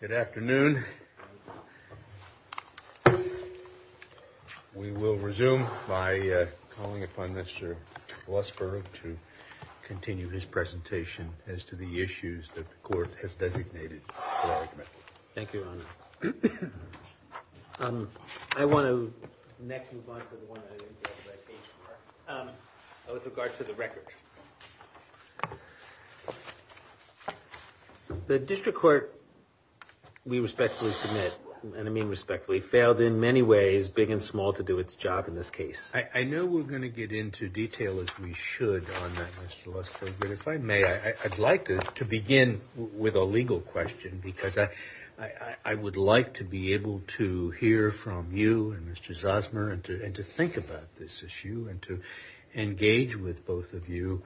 Good afternoon, we will resume by calling upon Mr. Lossborough to continue his presentation as to the issues that the court has designated. Thank you. I want to. With regards to the record. The district court. We respectfully submit and I mean respectfully failed in many ways big and small to do its job in this case. I know we're going to get into detail as we should on that. I'd like to begin with a legal question because I would like to be able to hear from you and to think about this issue and to engage with both of you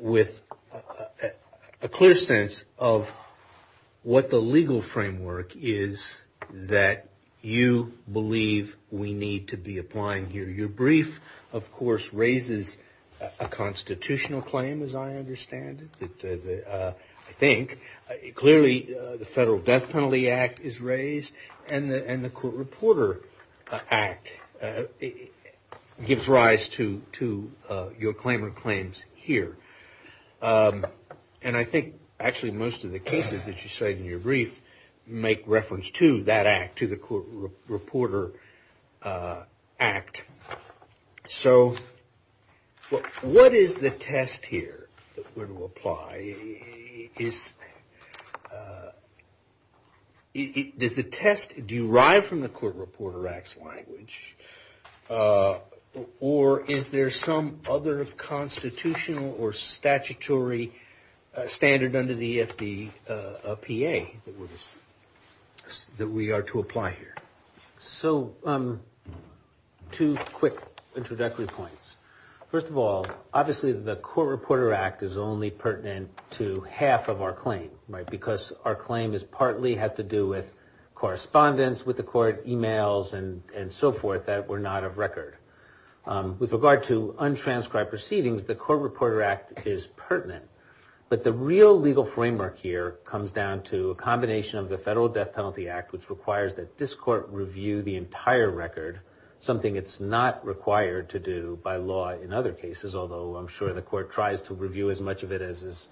with a clear sense of what the legal framework is that you believe we need to be applying here. Your brief, of course, raises a constitutional claim as I understand it. I think clearly the Federal Death Penalty Act is raised and the Court Reporter Act gives rise to your claim of claims here. And I think actually most of the cases that you say in your brief make reference to that act, to the Court Reporter Act. So what is the test here that we're going to apply? Does the test derive from the Court Reporter Act's language or is there some other constitutional or statutory standard under the FDA PA that we are to apply here? So two quick introductory points. First of all, obviously the Court Reporter Act is only pertinent to half of our claim because our claim partly has to do with correspondence with the court, emails and so forth that were not of record. With regard to untranscribed proceedings, the Court Reporter Act is pertinent. But the real legal framework here comes down to a combination of the Federal Death Penalty Act, which requires that this court review the entire record, something it's not required to do by law in other cases, although I'm sure the court tries to review as much of it as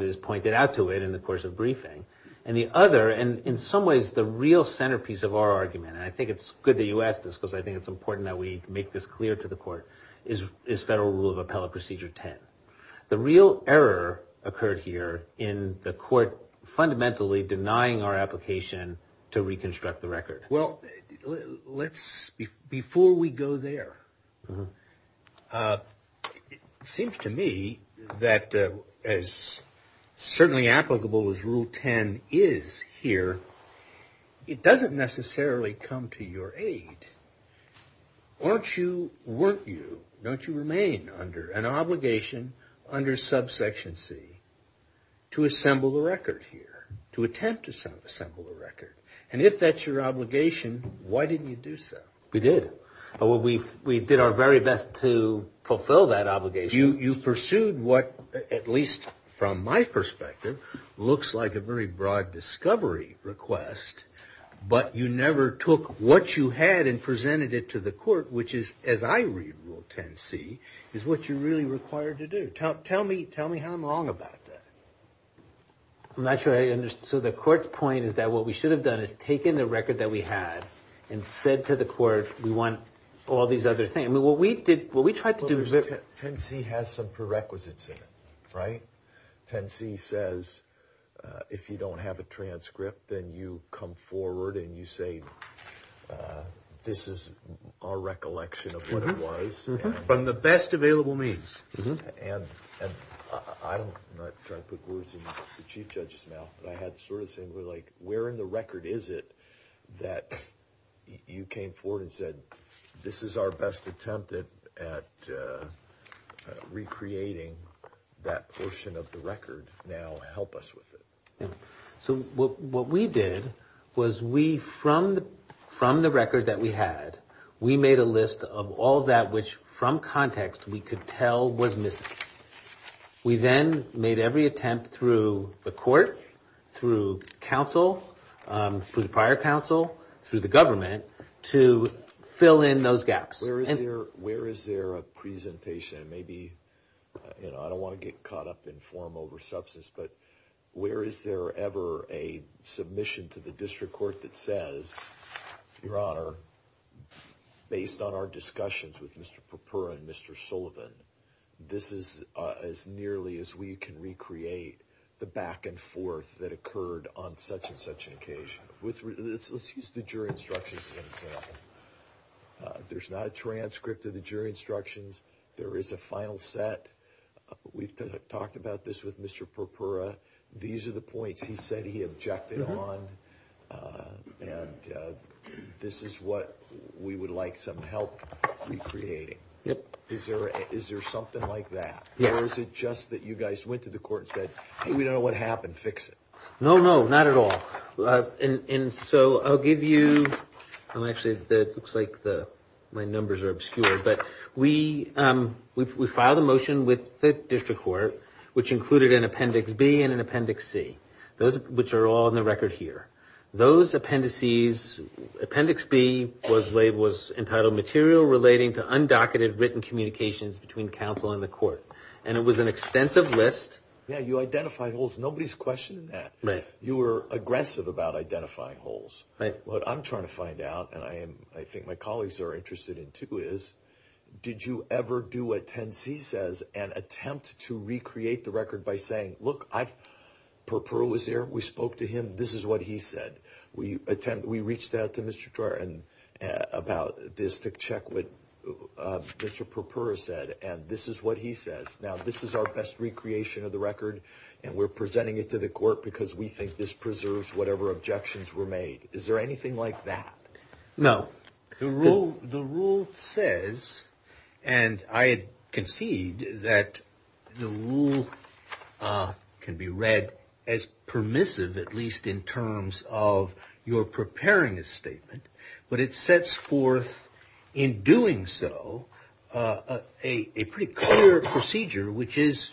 is pointed out to it in the course of briefing. And the other, and in some ways the real centerpiece of our argument, and I think it's good that you asked this because I think it's important that we make this clear to the court, is Federal Rule of Appellate Procedure 10. The real error occurred here in the court fundamentally denying our application to reconstruct the record. Well, before we go there, it seems to me that as certainly applicable as Rule 10 is here, it doesn't necessarily come to your aid. Aren't you, weren't you, don't you remain under an obligation under Subsection C to assemble a record here, to attempt to assemble a record? And if that's your obligation, why didn't you do so? We did. We did our very best to fulfill that obligation. You pursued what, at least from my perspective, looks like a very broad discovery request, but you never took what you had and presented it to the court, which is, as I read Rule 10C, is what you're really required to do. Tell me how I'm wrong about that. I'm not sure I understand. So the court's point is that what we should have done is taken the record that we had and said to the court, we want all these other things. 10C has some prerequisites in it, right? 10C says, if you don't have a transcript, then you come forward and you say, this is our recollection of what it was. From the best available means. And I'm not trying to put words in the Chief Judge's mouth, but I had sort of things like, where in the record is it that you came forward and said, this is our best attempt at recreating that portion of the record. Now help us with it. So what we did was we, from the record that we had, we made a list of all that which, from context, we could tell was missing. We then made every attempt through the court, through counsel, through the prior counsel, through the government, to fill in those gaps. Where is there a presentation? I don't want to get caught up in form over substance, but where is there ever a submission to the district court that says, Your Honor, based on our discussions with Mr. Perpera and Mr. Sullivan, this is as nearly as we can recreate the back and forth that occurred on such and such an occasion. Let's use the jury instructions as an example. There's not a transcript of the jury instructions. There is a final set. We've talked about this with Mr. Perpera. These are the points he said he objected on, and this is what we would like some help recreating. Is there something like that? Or is it just that you guys went to the court and said, hey, we don't know what happened. Fix it. No, no, not at all. And so I'll give you – well, actually, it looks like my numbers are obscure, but we filed a motion with the district court, which included an Appendix B and an Appendix C, which are all in the record here. Those appendices – Appendix B was entitled Material Relating to Undocumented Written Communications between Counsel and the Court, and it was an extensive list. Yeah, you identified holes. Nobody's questioned that. Right. You were aggressive about identifying holes. Right. What I'm trying to find out, and I think my colleagues are interested in too, is did you ever do what Appendix C says and attempt to recreate the record by saying, look, Perpera was here, we spoke to him, this is what he said. We reached out to Mr. Trotten about this to check what Mr. Perpera said, and this is what he says. Now, this is our best recreation of the record, and we're presenting it to the court because we think this preserves whatever objections were made. Is there anything like that? No. The rule says, and I concede that the rule can be read as permissive, at least in terms of your preparing a statement, but it sets forth in doing so a pretty clear procedure, which is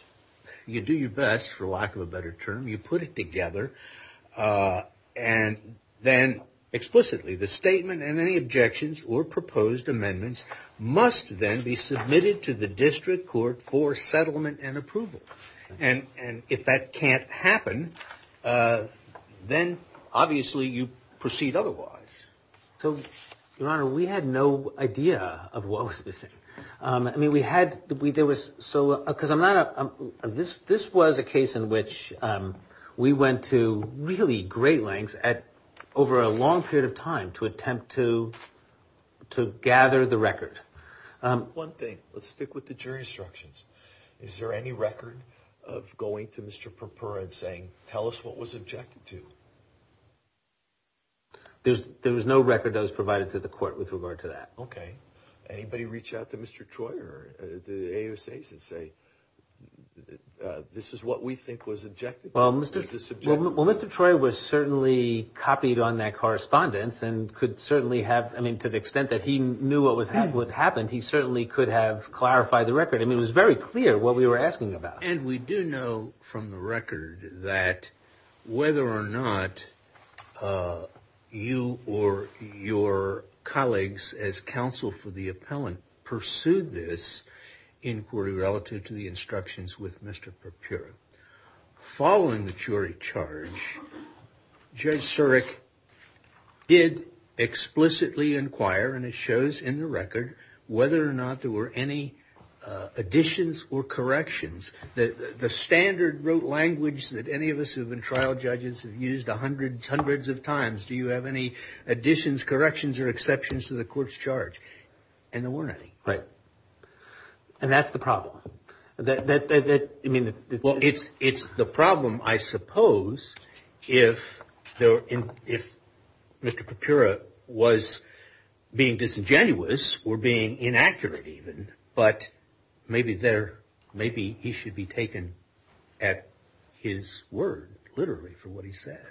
you do your best, for lack of a better term. You put it together, and then explicitly the statement and any objections or proposed amendments must then be submitted to the district court for settlement and approval. And if that can't happen, then obviously you proceed otherwise. So, Your Honor, we had no idea of what was missing. This was a case in which we went to really great lengths over a long period of time to attempt to gather the record. One thing, let's stick with the jury instructions. Is there any record of going to Mr. Perpera and saying, tell us what was objected to? There was no record that was provided to the court with regard to that. Okay. Anybody reach out to Mr. Troy or the ASAs and say, this is what we think was objected to? Well, Mr. Troy was certainly copied on that correspondence and could certainly have, I mean, to the extent that he knew what had happened, he certainly could have clarified the record. I mean, it was very clear what we were asking about. And we do know from the record that whether or not you or your colleagues as counsel for the appellant pursued this inquiry relative to the instructions with Mr. Perpera. Following the jury charge, Judge Surek did explicitly inquire, and it shows in the record, whether or not there were any additions or corrections. The standard rote language that any of us who have been trial judges have used hundreds of times, do you have any additions, corrections, or exceptions to the court's charge? And there weren't any. Right. And that's the problem. Well, it's the problem, I suppose, if Mr. Perpera was being disingenuous or being inaccurate even, but maybe he should be taken at his word, literally, for what he said.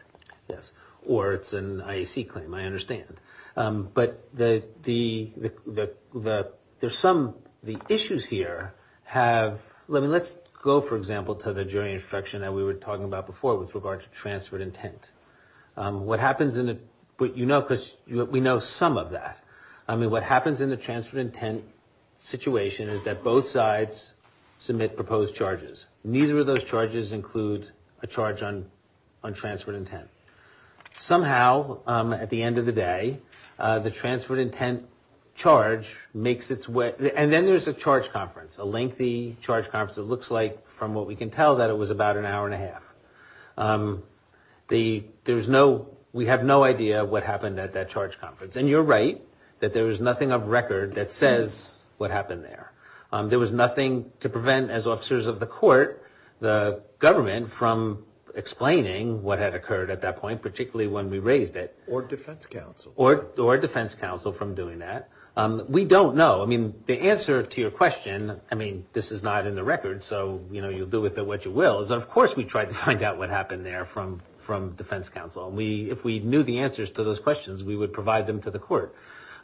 Yes. Or it's an IAC claim, I understand. But the issues here have – I mean, let's go, for example, to the jury instruction that we were talking about before with regard to transferred intent. What happens in the – but you know, because we know some of that. I mean, what happens in the transferred intent situation is that both sides submit proposed charges. Neither of those charges include a charge on transferred intent. Somehow, at the end of the day, the transferred intent charge makes its way – and then there's a charge conference, a lengthy charge conference. It looks like, from what we can tell, that it was about an hour and a half. There's no – we have no idea what happened at that charge conference. And you're right that there was nothing on record that says what happened there. There was nothing to prevent, as officers of the court, the government from explaining what had occurred at that point, particularly when we raised it. Or defense counsel. Or defense counsel from doing that. We don't know. I mean, the answer to your question – I mean, this is not in the record, so, you know, you'll do with it what you will. Of course we tried to find out what happened there from defense counsel. If we knew the answers to those questions, we would provide them to the court.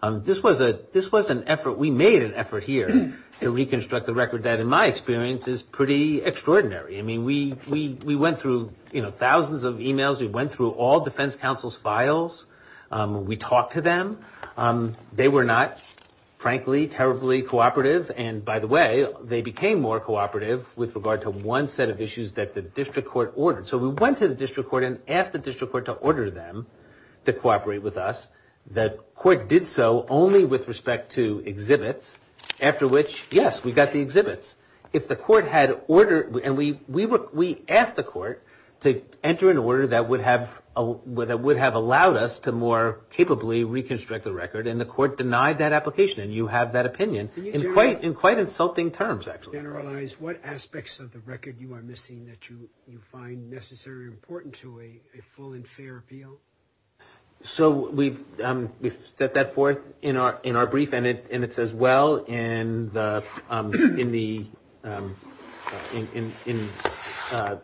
This was an effort – we made an effort here to reconstruct the record that, in my experience, is pretty extraordinary. I mean, we went through, you know, thousands of emails. We went through all defense counsel's files. We talked to them. They were not, frankly, terribly cooperative. And, by the way, they became more cooperative with regard to one set of issues that the district court ordered. So we went to the district court and asked the district court to order them to cooperate with us. The court did so only with respect to exhibits, after which, yes, we got the exhibits. If the court had ordered – and we asked the court to enter an order that would have allowed us to more capably reconstruct the record, and the court denied that application, and you have that opinion in quite insulting terms, actually. Can you generalize what aspects of the record you are missing that you find necessarily important to a full and fair appeal? So we've set that forth in our brief, and it's as well in the –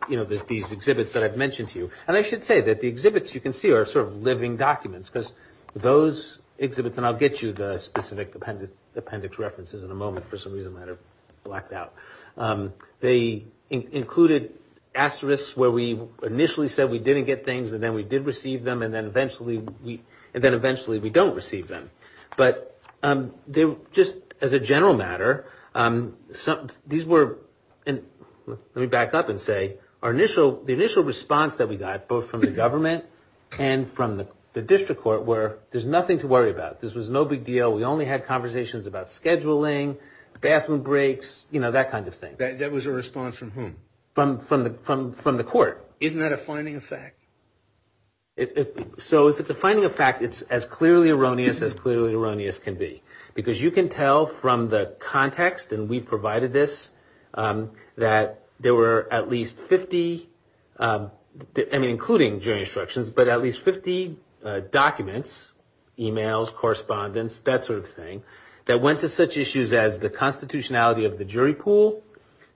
you know, these exhibits that I've mentioned to you. And I should say that the exhibits you can see are sort of living documents, because those exhibits – and I'll get you the specific appendix references in a moment. For some reason, I might have blacked out. They included asterisks where we initially said we didn't get things, and then we did receive them, and then eventually we don't receive them. But just as a general matter, these were – let me back up and say, our initial – the initial response that we got, both from the government and from the district court, were there's nothing to worry about. This was no big deal. We only had conversations about scheduling, bathroom breaks, you know, that kind of thing. That was a response from whom? From the court. Isn't that a finding of fact? So it's a finding of fact. It's as clearly erroneous as clearly erroneous can be, because you can tell from the context, and we provided this, that there were at least 50 – I mean, including jury instructions, but at least 50 documents, emails, correspondence, that sort of thing, that went to such issues as the constitutionality of the jury pool,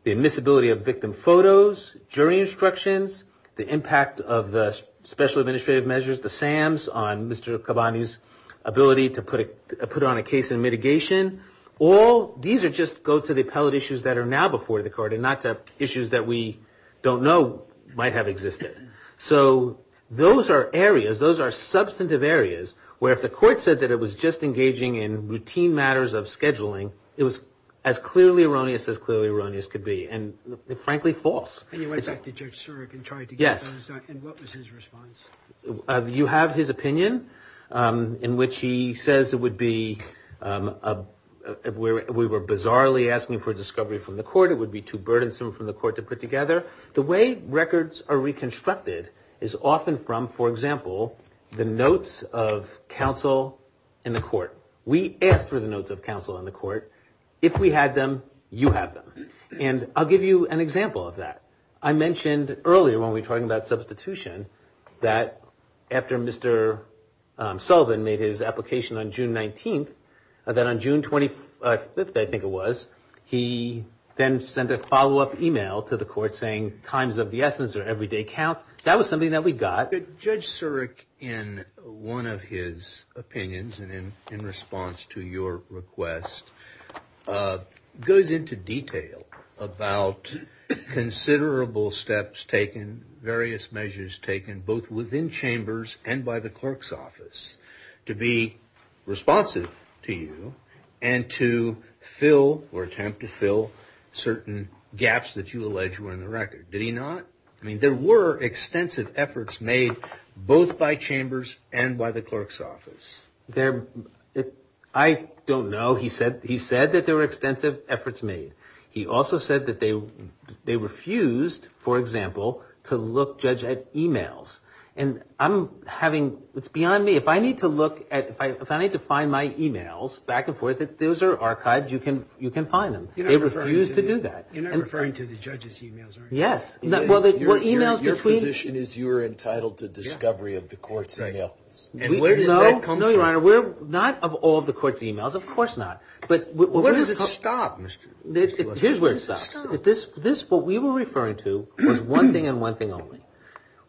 the admissibility of victim photos, jury instructions, the impact of the special administrative measures, the SAMs on Mr. Kabanu's ability to put on a case in mitigation. All – these are just – go to the appellate issues that are now before the court and not to issues that we don't know might have existed. So those are areas, those are substantive areas, where if the court said that it was just engaging in routine matters of scheduling, it was as clearly erroneous as clearly erroneous could be, and frankly, false. And you went back to Judge Sturrock and tried to get his response back. Yes. And what was his response? You have his opinion in which he says it would be – we were bizarrely asking for a discovery from the court, it would be too burdensome from the court to put together. The way records are reconstructed is often from, for example, the notes of counsel in the court. We asked for the notes of counsel in the court. If we had them, you have them. And I'll give you an example of that. I mentioned earlier when we were talking about substitution that after Mr. Sullivan made his application on June 19th, that on June 25th, I think it was, he then sent a follow-up email to the court saying times of the essence are an everyday count. That was something that we got. Judge Sturrock, in one of his opinions and in response to your request, goes into detail about considerable steps taken, various measures taken both within chambers and by the clerk's office to be responsive to you and to fill or attempt to fill certain gaps that you allege were in the record. Did he not? I mean, there were extensive efforts made both by chambers and by the clerk's office. I don't know. He said that there were extensive efforts made. He also said that they refused, for example, to look, Judge, at emails. And I'm having, it's beyond me. If I need to look at, if I need to find my emails back and forth, if those are archived, you can find them. They refused to do that. You're not referring to the judge's emails, are you? Yes. Your position is you're entitled to discovery of the court's emails. And where does that come from? No, Your Honor, not of all of the court's emails, of course not. But where does it stop, Mr. Sturrock? Here's where it stops. What we were referring to was one thing and one thing only,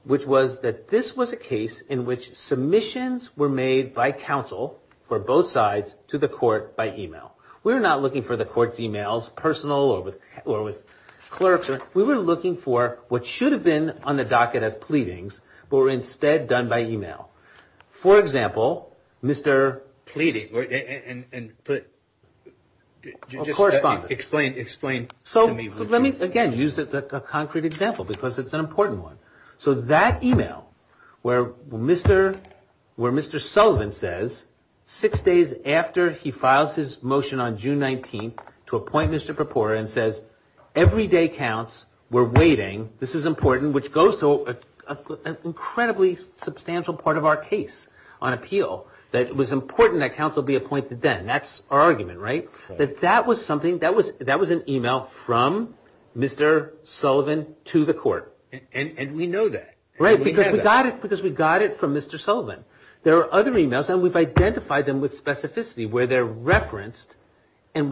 which was that this was a case in which submissions were made by counsel for both sides to the court by email. We're not looking for the court's emails, personal or with clerks. Your Honor, we were looking for what should have been on the docket of pleadings, but were instead done by email. For example, Mr. Pleading. Explain to me. So let me, again, use a concrete example because it's an important one. So that email where Mr. Sullivan says six days after he files his motion on June 19th to appoint Mr. Perpura and says every day counts, we're waiting, this is important, which goes to an incredibly substantial part of our case on appeal, that it was important that counsel be appointed then. That's our argument, right? That that was something, that was an email from Mr. Sullivan to the court. And we know that. Right, because we got it from Mr. Sullivan. There are other emails, and we've identified them with specificity, where they're referenced. So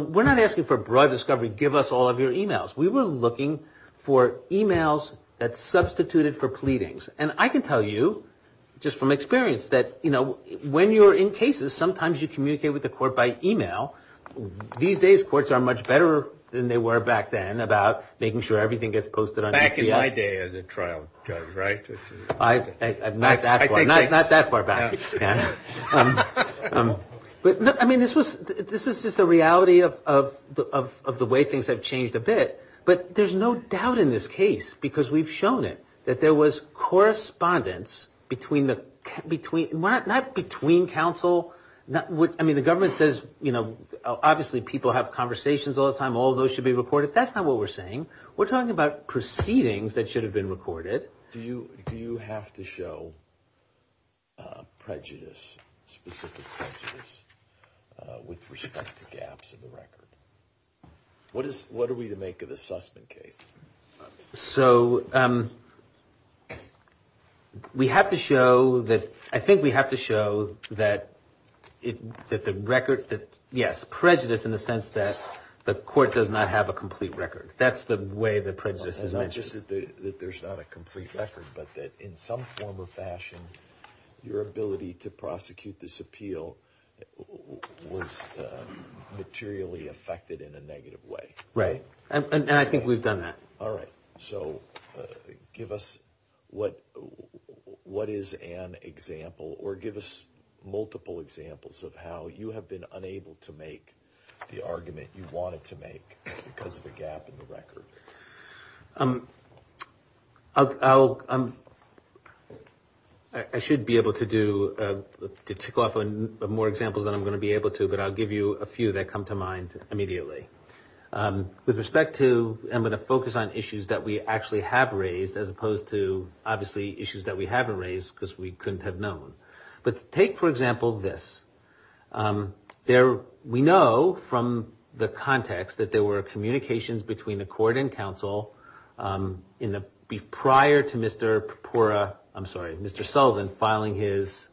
we're not asking for broad discovery, give us all of your emails. We were looking for emails that substituted for pleadings. And I can tell you just from experience that, you know, when you're in cases, sometimes you communicate with the court by email. These days courts are much better than they were back then about making sure everything gets posted. Back in my day as a trial judge, right? Not that far back. I mean, this is just the reality of the way things have changed a bit. But there's no doubt in this case, because we've shown it, that there was correspondence between the – not between counsel. I mean, the government says, you know, obviously people have conversations all the time, all those should be recorded. That's not what we're saying. We're talking about proceedings that should have been recorded. Do you have to show prejudice, specific prejudice, with respect to gaps in the record? What are we to make of the Sussman case? So we have to show that – I think we have to show that the record – yes, prejudice in the sense that the court does not have a complete record. That's the way that prejudice is measured. Not just that there's not a complete record, but that in some form or fashion, your ability to prosecute this appeal was materially affected in a negative way. Right. And I think we've done that. All right. So give us what is an example, or give us multiple examples of how you have been unable to make the argument you wanted to make because of the gap in the record. I should be able to tick off more examples than I'm going to be able to, but I'll give you a few that come to mind immediately. With respect to – I'm going to focus on issues that we actually have raised as opposed to, obviously, issues that we haven't raised because we couldn't have known. But take, for example, this. We know from the context that there were communications between the court and counsel prior to Mr. Purpura – I'm sorry, Mr. Sullivan filing his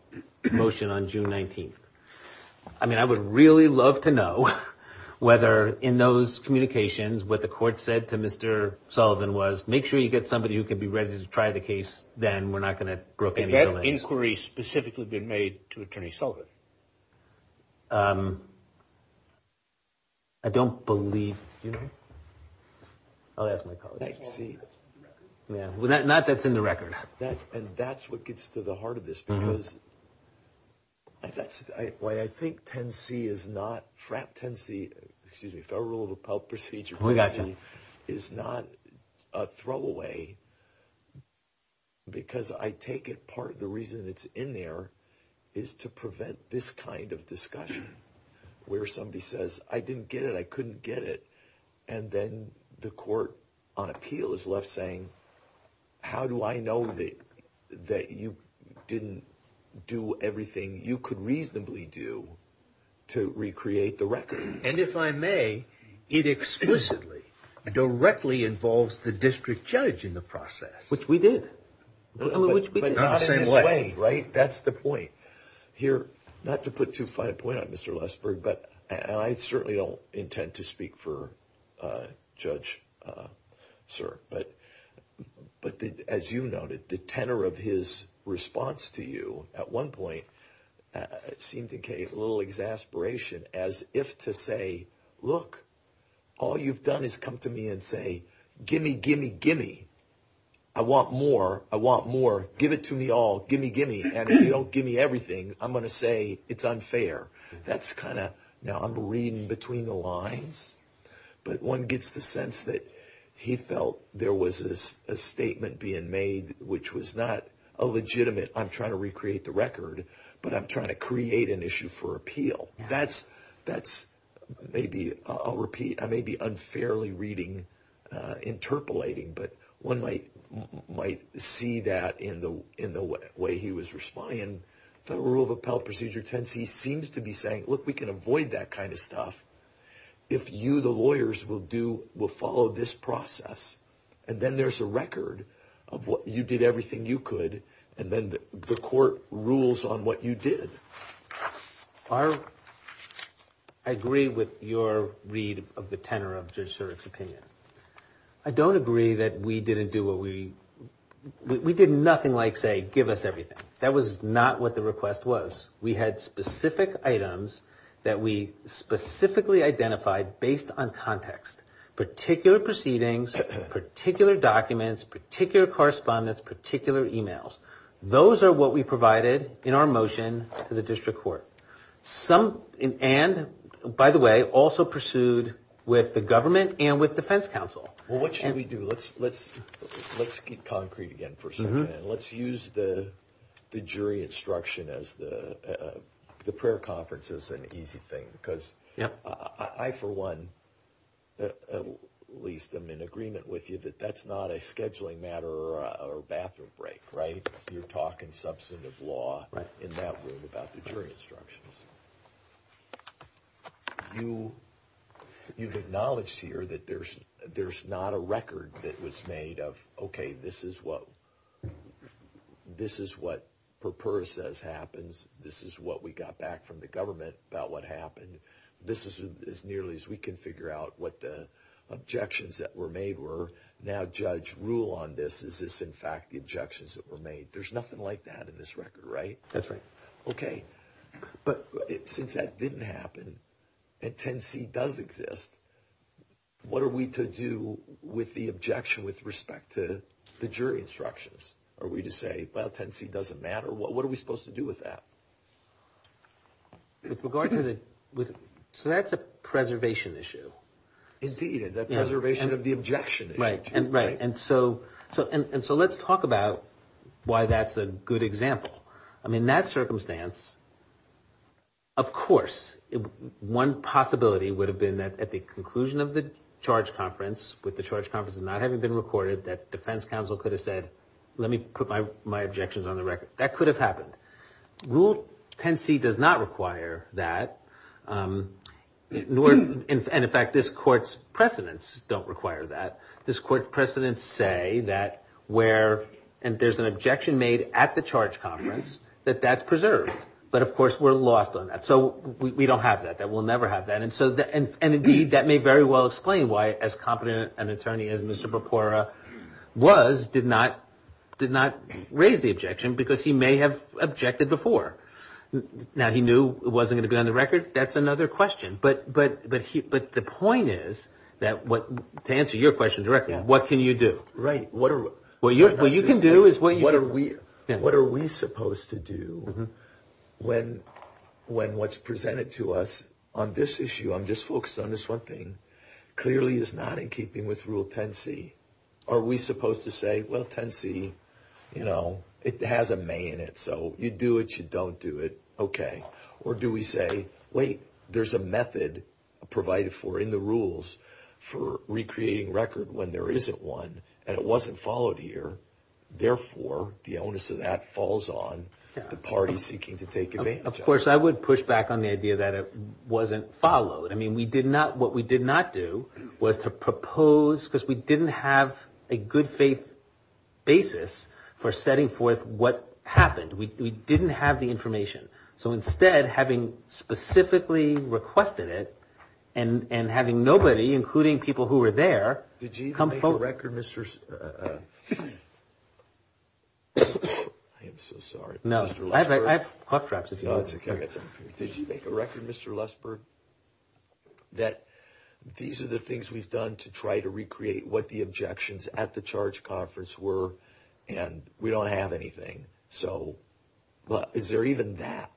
motion on June 19th. I mean, I would really love to know whether in those communications, what the court said to Mr. Sullivan was, make sure you get somebody who can be ready to try the case, then we're not going to broker any relations. Had that inquiry specifically been made to Attorney Sullivan? I don't believe – I'll ask my colleagues. Not that's in the record. And that's what gets to the heart of this because I think 10C is not – because I take it part of the reason it's in there is to prevent this kind of discussion where somebody says, I didn't get it, I couldn't get it, and then the court on appeal is left saying, how do I know that you didn't do everything you could reasonably do to recreate the record? And if I may, it explicitly, directly involves the district judge in the process. Which we did. But not in this way, right? That's the point. Here, not to put too fine a point on Mr. Lesburg, and I certainly don't intend to speak for Judge Sirk, but as you noted, the tenor of his response to you at one point seemed to create a little exasperation as if to say, look, all you've done is come to me and say, gimme, gimme, gimme. I want more. I want more. Give it to me all. Gimme, gimme. And if you don't gimme everything, I'm going to say it's unfair. That's kind of – now, I'm reading between the lines, but one gets the sense that he felt there was a statement being made, which was not a legitimate, I'm trying to recreate the record, but I'm trying to create an issue for appeal. That's maybe, I'll repeat, maybe unfairly reading, interpolating, but one might see that in the way he was responding. The rule of appellate procedure tends, he seems to be saying, look, we can avoid that kind of stuff if you, the lawyers, will follow this process. And then there's a record of what you did, everything you could, and then the court rules on what you did. I agree with your read of the tenor of Zersherik's opinion. I don't agree that we didn't do what we – we did nothing like say, give us everything. That was not what the request was. We had specific items that we specifically identified based on context, particular proceedings, particular documents, particular correspondence, particular emails. Those are what we provided in our motion to the district court. And, by the way, also pursued with the government and with defense counsel. Well, what should we do? Let's be concrete again for a second. Let's use the jury instruction as the prayer conference is an easy thing. Because I, for one, at least am in agreement with you that that's not a scheduling matter or a bathroom break, right? You're talking substantive law in that room about the jury instructions. You've acknowledged here that there's not a record that was made of, okay, this is what Purpura says happens, this is what we got back from the government about what happened. This is as nearly as we can figure out what the objections that were made were. Now, judge, rule on this. Is this, in fact, the objections that were made? There's nothing like that in this record, right? That's right. Okay. But since that didn't happen and 10C does exist, what are we to do with the objection with respect to the jury instructions? Are we to say, well, 10C doesn't matter? What are we supposed to do with that? So that's a preservation issue. Indeed. That preservation of the objection issue. Right. And so let's talk about why that's a good example. I mean, in that circumstance, of course, one possibility would have been that at the conclusion of the charge conference, with the charge conference not having been recorded, that defense counsel could have said, let me put my objections on the record. That could have happened. Rule 10C does not require that. And, in fact, this court's precedents don't require that. This court's precedents say that where there's an objection made at the charge conference, that that's preserved. But, of course, we're lost on that. So we don't have that. We'll never have that. And, indeed, that may very well explain why, as competent an attorney as Mr. Now, he knew it wasn't going to be on the record. That's another question. But the point is, to answer your question directly, what can you do? Right. What are we supposed to do when what's presented to us on this issue, on this focus on this one thing, clearly is not in keeping with Rule 10C. Are we supposed to say, well, 10C, you know, it has a may in it. So you do it. You don't do it. Okay. Or do we say, wait, there's a method provided for in the rules for recreating record when there isn't one, and it wasn't followed here. Therefore, the onus of that falls on the parties seeking to take advantage of it. Of course, I would push back on the idea that it wasn't followed. I mean, what we did not do was to propose, because we didn't have a good faith basis for setting forth what happened. We didn't have the information. So instead, having specifically requested it, and having nobody, including people who were there, come forward. Did you make a record, Mr. Lusberg? I am so sorry. No. Did you make a record, Mr. Lusberg, that these are the things we've done to try to recreate what the objections at the charge conference were, and we don't have anything. So is there even that?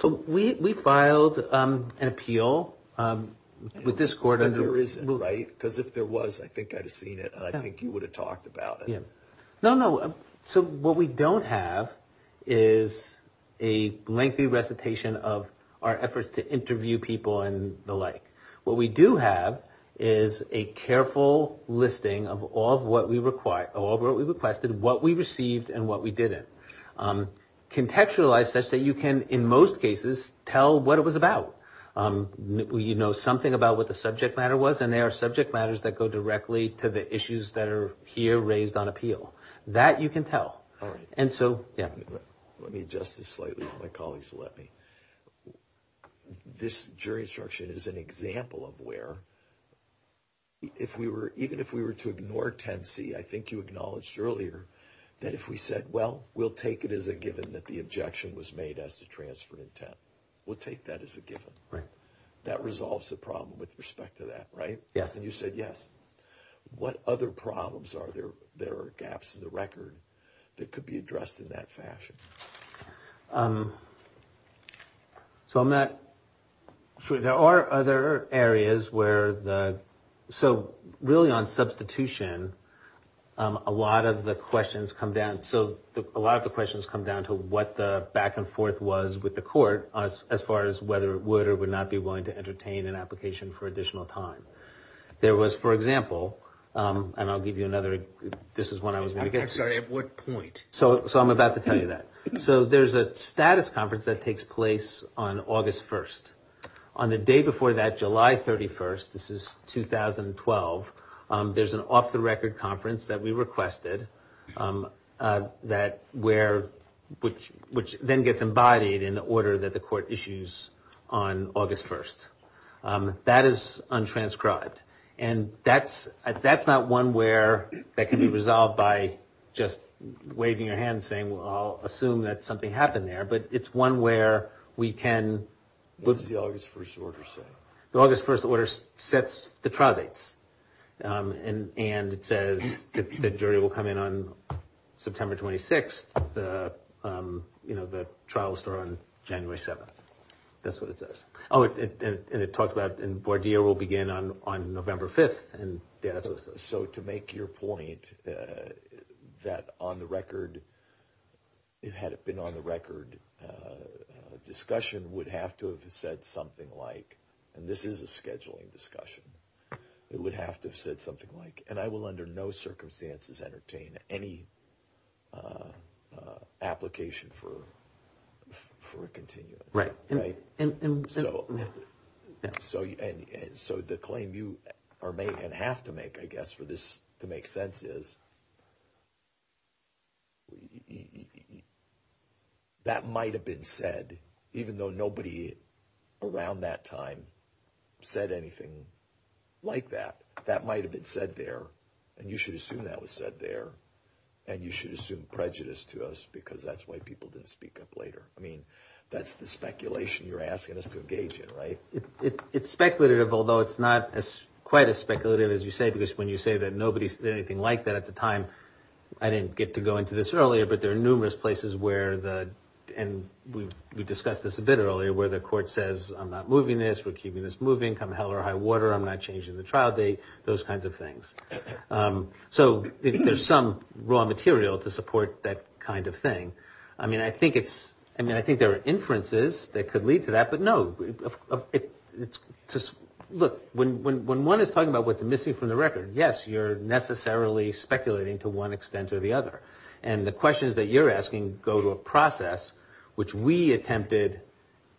So we filed an appeal with this court. There isn't, right? Because if there was, I think I'd have seen it, and I think you would have talked about it. No, no. So what we don't have is a lengthy recitation of our efforts to interview people and the like. What we do have is a careful listing of all of what we requested, what we received, and what we didn't. Contextualized such that you can, in most cases, tell what it was about. You know something about what the subject matter was, and there are subject matters that go directly to the issues that are here raised on appeal. That you can tell. Let me adjust this slightly for my colleagues to let me. This jury instruction is an example of where, even if we were to ignore 10C, I think you acknowledged earlier that if we said, well, we'll take it as a given that the objection was made as to transferring 10. We'll take that as a given. That resolves the problem with respect to that, right? Yes. And you said yes. What other problems are there that are gaps in the record that could be addressed in that fashion? So I'm not sure. There are other areas where the, so really on substitution, a lot of the questions come down. So a lot of the questions come down to what the back and forth was with the court as far as whether it would or would not be willing to entertain an application for additional time. There was, for example, and I'll give you another, this is one I was going to get to. I'm sorry, at what point? So I'm about to tell you that. So there's a status conference that takes place on August 1st. On the day before that, July 31st, this is 2012, there's an off-the-record conference that we requested that where, which then gets embodied in the order that the court issues on August 1st. That is untranscribed. And that's not one where that can be resolved by just waving your hand and saying, well, I'll assume that something happened there. But it's one where we can, what's the August 1st order say? The August 1st order sets the trial dates. And it says that jury will come in on September 26th, the trial will start on January 7th. That's what it says. Oh, and it talks about Bourdier will begin on November 5th. So to make your point that on the record, it had been on the record, a discussion would have to have said something like, and this is a scheduling discussion, it would have to have said something like, and I will under no circumstances entertain any application for a continuity. Right. So the claim you are making and have to make, I guess, for this to make sense is that might have been said, even though nobody around that time said anything like that. That might have been said there, and you should assume that was said there, and you should assume prejudice to us because that's why people didn't speak up later. I mean, that's the speculation you're asking us to engage in, right? It's speculative, although it's not quite as speculative as you say, because when you say that nobody said anything like that at the time, I didn't get to go into this earlier, but there are numerous places where, and we discussed this a bit earlier, where the court says, I'm not moving this, we're keeping this moving, come hell or high water, I'm not changing the trial date, those kinds of things. So there's some raw material to support that kind of thing. I mean, I think there are inferences that could lead to that, but no, look, when one is talking about what's missing from the record, yes, you're necessarily speculating to one extent or the other. And the questions that you're asking go to a process which we attempted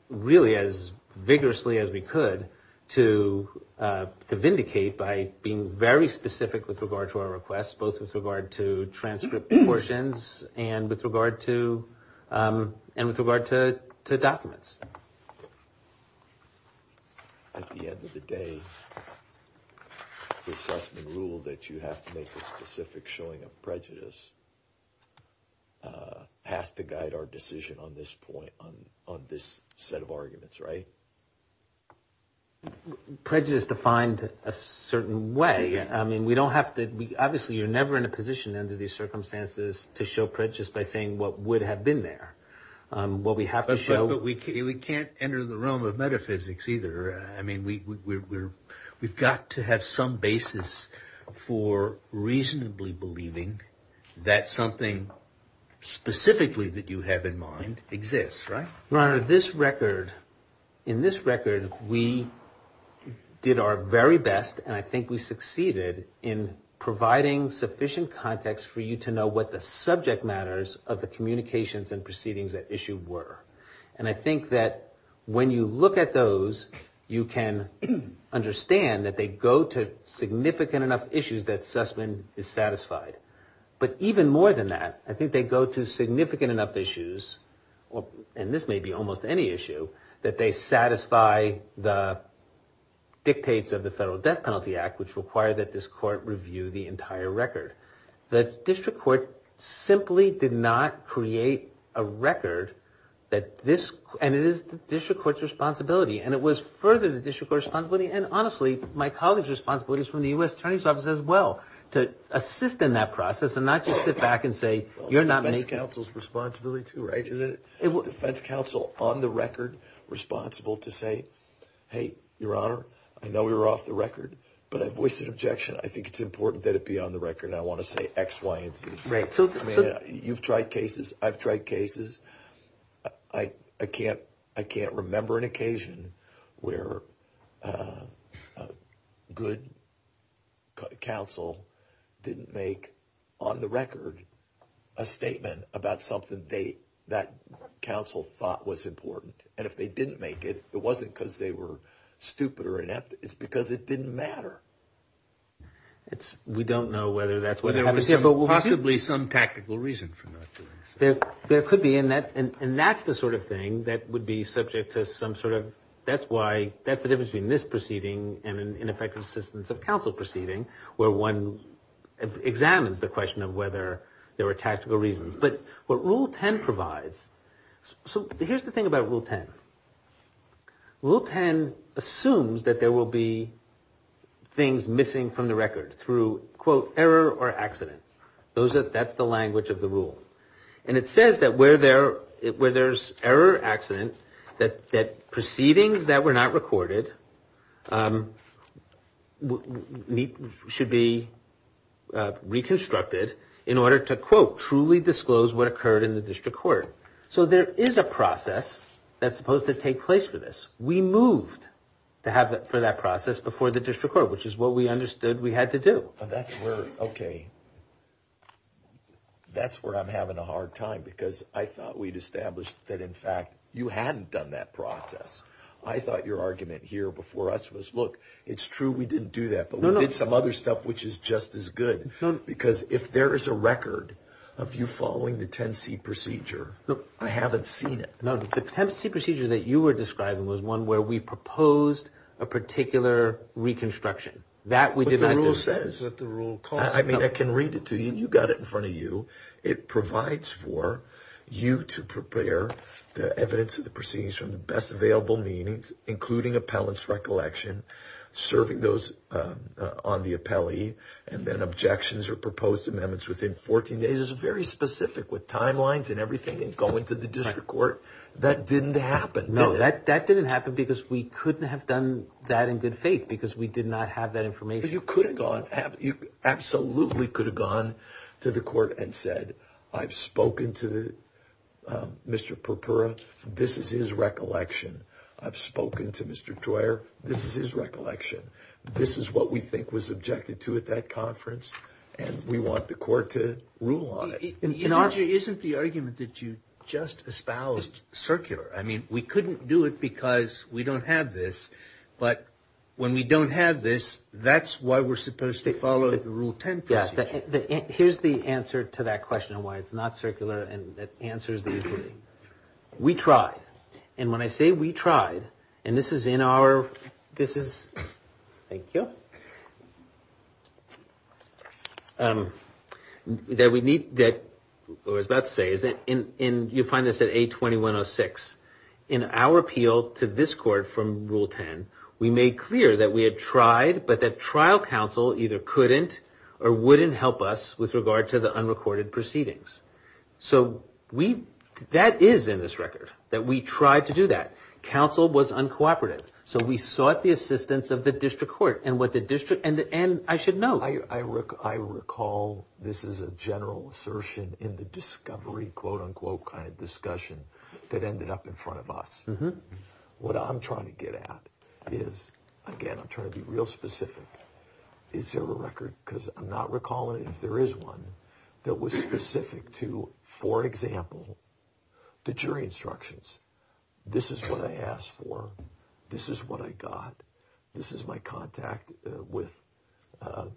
really as vigorously as we could to vindicate by being very specific with regard to our requests, both with regard to transcript portions and with regard to documents. At the end of the day, the assessment rule that you have to make a specific showing of prejudice has to guide our decision on this point, on this set of arguments, right? Prejudice defined a certain way. Obviously, you're never in a position under these circumstances to show prejudice by saying what would have been there. But we can't enter the realm of metaphysics either. I mean, we've got to have some basis for reasonably believing that something specifically that you have in mind exists, right? Your Honor, in this record, we did our very best, and I think we succeeded, in providing sufficient context for you to know what the subject matters of the communications and proceedings at issue were. And I think that when you look at those, you can understand that they go to significant enough issues that Sussman is satisfied. But even more than that, I think they go to significant enough issues, and this may be almost any issue, that they satisfy the dictates of the Federal Debt Penalty Act, which require that this court review the entire record. The district court simply did not create a record, and it is the district court's responsibility, and it was furthered in the district court's responsibility and, honestly, my colleague's responsibility from the U.S. Attorney's Office as well, to assist in that process and not just sit back and say, you're not making it. That's counsel's responsibility too, right? Is the federal counsel on the record responsible to say, hey, Your Honor, I know we were off the record, but I voiced an objection. I think it's important that it be on the record, and I want to say X, Y, and Z. Right. You've tried cases. I've tried cases. I can't remember an occasion where a good counsel didn't make on the record a statement about something that counsel thought was important, and if they didn't make it, it wasn't because they were stupid or inept. It's because it didn't matter. We don't know whether that's what happened. There's possibly some tactical reason for that. There could be, and that's the sort of thing that would be subject to some sort of – that's why – that's the difference between this proceeding and an ineffective assistance of counsel proceeding where one examines the question of whether there were tactical reasons. But what Rule 10 provides – so here's the thing about Rule 10. Rule 10 assumes that there will be things missing from the record through, quote, error or accident. That's the language of the rule, and it says that where there's error or accident, that proceedings that were not recorded should be reconstructed in order to, quote, truly disclose what occurred in the district court. So there is a process that's supposed to take place for this. We moved for that process before the district court, which is what we understood we had to do. But that's where – okay. That's where I'm having a hard time because I thought we'd established that, in fact, you hadn't done that process. I thought your argument here before us was, look, it's true we didn't do that, but we did some other stuff which is just as good. Because if there is a record of you following the 10C procedure, look, I haven't seen it. No, the 10C procedure that you were describing was one where we proposed a particular reconstruction. That we did not do. That's what the rule says. That's what the rule calls for. I mean, I can read it to you. You've got it in front of you. It provides for you to prepare the evidence of the proceedings from the best available meanings, including appellant's recollection, serving those on the appellee, and then objections or proposed amendments within 14 days. It's very specific with timelines and everything and going to the district court. That didn't happen. No, that didn't happen because we couldn't have done that in good faith because we did not have that information. You could have gone – you absolutely could have gone to the court and said, I've spoken to Mr. Purpura. This is his recollection. I've spoken to Mr. Troyer. This is his recollection. This is what we think was objected to at that conference, and we want the court to rule on it. You know, Archer, isn't the argument that you just espoused circular? I mean, we couldn't do it because we don't have this, but when we don't have this, that's why we're supposed to follow the rule 10C. Here's the answer to that question of why it's not circular, and it answers the question. We tried, and when I say we tried, and this is in our – this is – thank you. I was about to say, you'll find this at A2106. In our appeal to this court from Rule 10, we made clear that we had tried, but that trial counsel either couldn't or wouldn't help us with regard to the unrecorded proceedings. So we – that is in this record that we tried to do that. Counsel was uncooperative, so we sought the assistance of the district court, and what the district – and I should note – I recall this is a general assertion in the discovery, quote, unquote, kind of discussion that ended up in front of us. What I'm trying to get at is, again, I'm trying to be real specific. Is there a record – because I'm not recalling if there is one that was specific to, for example, the jury instructions. This is what I asked for. This is what I got. This is my contact with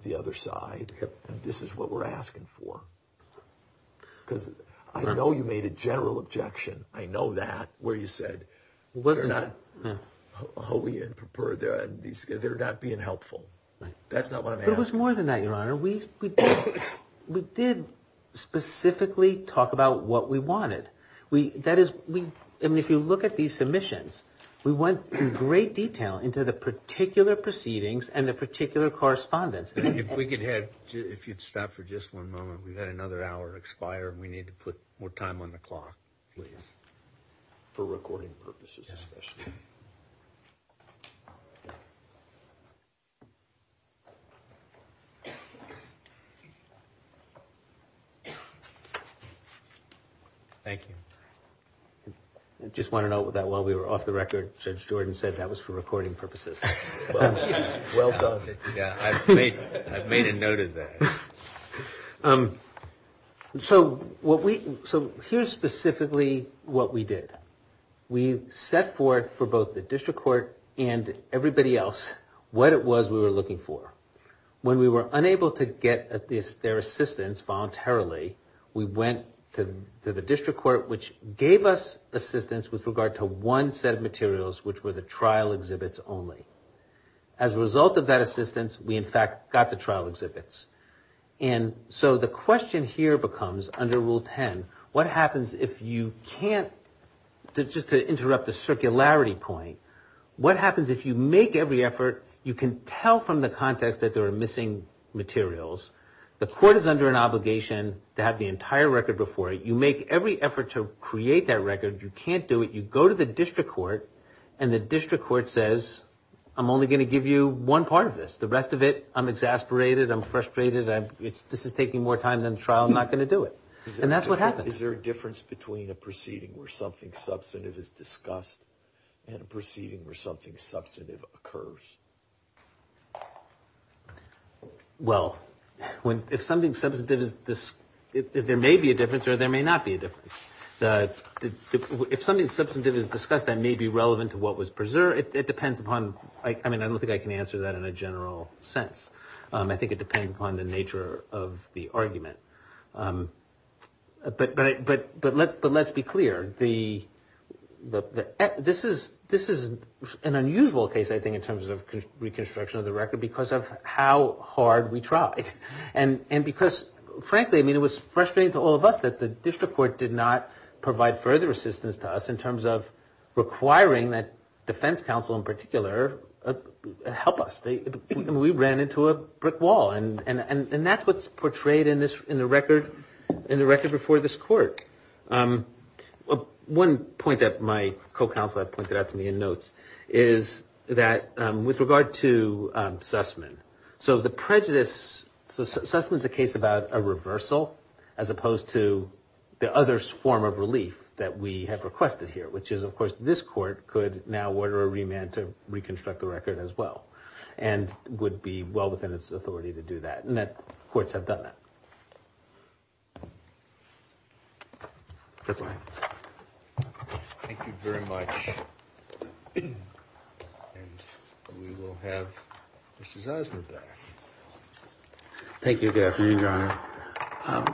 the other side, and this is what we're asking for. Because I know you made a general objection. I know that, where you said they're not being helpful. That's not what I'm asking. It was more than that, Your Honor. We did specifically talk about what we wanted. That is – I mean, if you look at these submissions, we went in great detail into the particular proceedings and the particular correspondence. If we could have – if you'd stop for just one moment. We've had another hour expire, and we need to put more time on the clock, please. For recording purposes, especially. Thank you. I just want to note that while we were off the record, Judge Jordan said that was for recording purposes. Well done. Yeah, I've made a note of that. So what we – so here's specifically what we did. We set forth for both the district court and everybody else what it was we were looking for. When we were unable to get their assistance voluntarily, we went to the district court, which gave us assistance with regard to one set of materials, which were the trial exhibits only. As a result of that assistance, we, in fact, got the trial exhibits. And so the question here becomes, under Rule 10, what happens if you can't – just to interrupt the circularity point, what happens if you make every effort, you can tell from the context that there are missing materials, the court is under an obligation to have the entire record before it, you make every effort to create that record, you can't do it, you go to the district court, and the district court says, I'm only going to give you one part of this. The rest of it, I'm exasperated, I'm frustrated, this is taking more time than the trial, I'm not going to do it. And that's what happens. Is there a difference between a proceeding where something substantive is discussed and a proceeding where something substantive occurs? Well, if something substantive is – there may be a difference or there may not be a difference. If something substantive is discussed, that may be relevant to what was preserved. It depends upon – I mean, I don't think I can answer that in a general sense. I think it depends upon the nature of the argument. But let's be clear. This is an unusual case, I think, in terms of reconstruction of the record because of how hard we tried. And because, frankly, I mean, it was frustrating to all of us that the district court did not provide further assistance to us in terms of requiring that defense counsel in particular help us. We ran into a brick wall. And that's what's portrayed in the record before this court. One point that my co-counselor pointed out to me in notes is that with regard to Sussman, so the prejudice – so Sussman's a case about a reversal as opposed to the other form of relief that we have requested here, which is, of course, this court could now order a remand to reconstruct the record as well and would be well within its authority to do that. And that courts have done that. That's all I have. Thank you very much. And we will have Justice Osment back. Thank you. Good afternoon, Your Honor.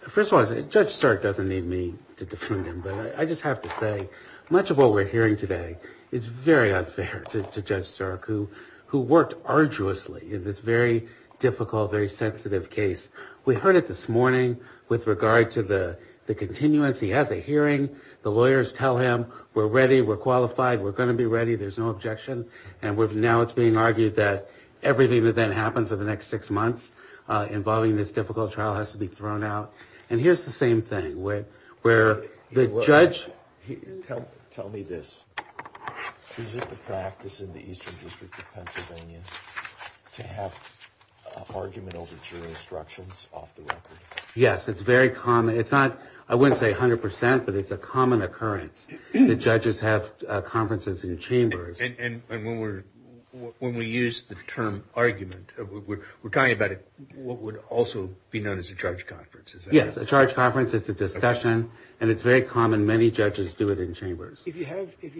First of all, Judge Stark doesn't need me to detune him, but I just have to say much of what we're hearing today is very unfair to Judge Stark who worked arduously in this very difficult, very sensitive case. We heard it this morning with regard to the continuance. He has a hearing. The lawyers tell him we're ready, we're qualified, we're going to be ready, there's no objection. And now it's being argued that everything that then happens in the next six months involving this difficult trial has to be thrown out. And here's the same thing where the judge – to have an argument over jury instructions off the record. Yes, it's very common. It's not, I wouldn't say 100 percent, but it's a common occurrence that judges have conferences in the chambers. And when we use the term argument, we're talking about what would also be known as a charge conference. Yes, a charge conference is a discussion, and it's very common. Many judges do it in chambers. If you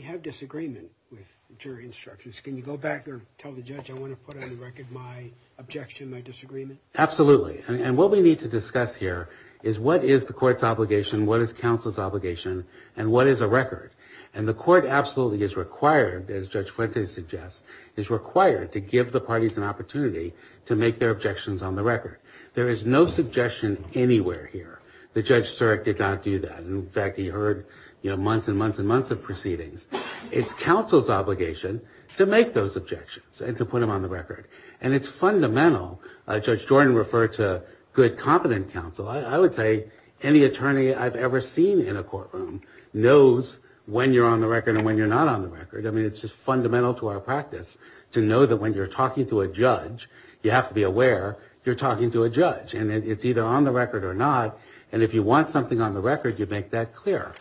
have disagreement with jury instructions, can you go back and tell the judge, I want to put on the record my objection, my disagreement? Absolutely. And what we need to discuss here is what is the court's obligation, what is counsel's obligation, and what is a record. And the court absolutely is required, as Judge Fuentes suggests, is required to give the parties an opportunity to make their objections on the record. There is no suggestion anywhere here that Judge Surik did not do that. In fact, he heard months and months and months of proceedings. It's counsel's obligation to make those objections and to put them on the record. And it's fundamental. Judge Jordan referred to good, competent counsel. I would say any attorney I've ever seen in a courtroom knows when you're on the record and when you're not on the record. I mean, it's just fundamental to our practice to know that when you're talking to a judge, you have to be aware you're talking to a judge. And it's either on the record or not. And if you want something on the record, you make that clear.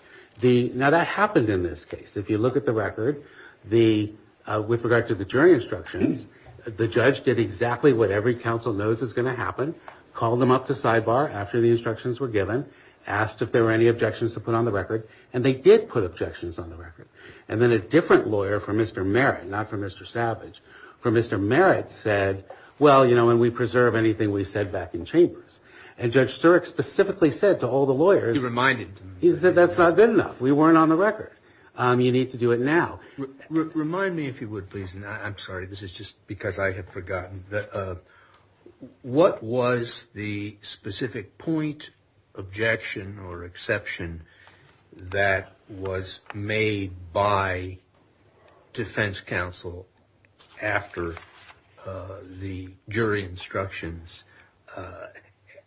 Now, that happened in this case. If you look at the record, with regard to the jury instructions, the judge did exactly what every counsel knows is going to happen, called them up to sidebar after the instructions were given, asked if there were any objections to put on the record, and they did put objections on the record. And then a different lawyer from Mr. Merritt, not from Mr. Savage, from Mr. Merritt said, well, you know, and we preserve anything we said back in chambers. And Judge Sturek specifically said to all the lawyers. He reminded them. He said that's not good enough. We weren't on the record. You need to do it now. Remind me, if you would, please, and I'm sorry. This is just because I had forgotten. What was the specific point, objection, or exception that was made by defense counsel after the jury instructions,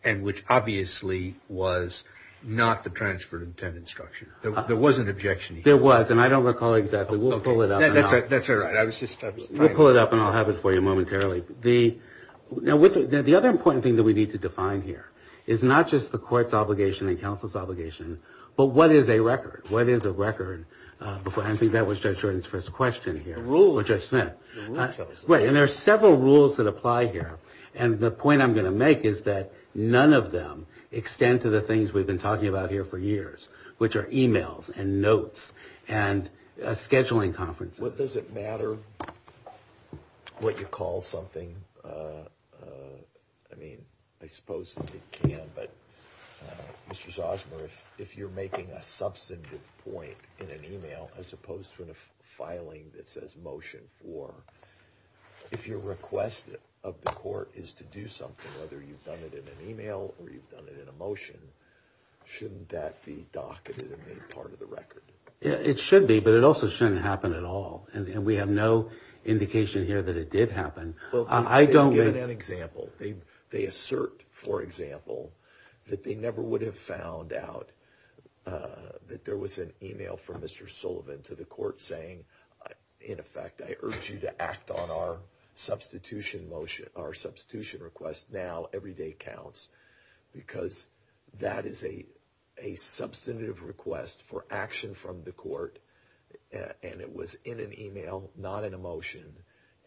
and which obviously was not the transferred intent instruction? There was an objection. There was, and I don't recall exactly. We'll pull it up now. That's all right. We'll pull it up, and I'll have it for you momentarily. The other important thing that we need to define here is not just the court's obligation and counsel's obligation, but what is a record? What is a record? I think that was Judge Jordan's first question here. Or Judge Smith. Right, and there are several rules that apply here, and the point I'm going to make is that none of them extend to the things we've been talking about here for years, which are e-mails and notes and scheduling conferences. Does it matter what you call something? I mean, I suppose that it can, but Mr. Zosmer, if you're making a substantive point in an e-mail, as opposed to the filing that says motion, or if your request of the court is to do something, whether you've done it in an e-mail or you've done it in a motion, shouldn't that be docketed and made part of the record? It should be, but it also shouldn't happen at all. And we have no indication here that it did happen. I don't think... Okay, I'll give you an example. They assert, for example, that they never would have found out that there was an e-mail from Mr. Sullivan to the court saying, in effect, I urge you to act on our substitution motion, our substitution request now, every day counts, because that is a substantive request for action from the court, and it was in an e-mail, not in a motion,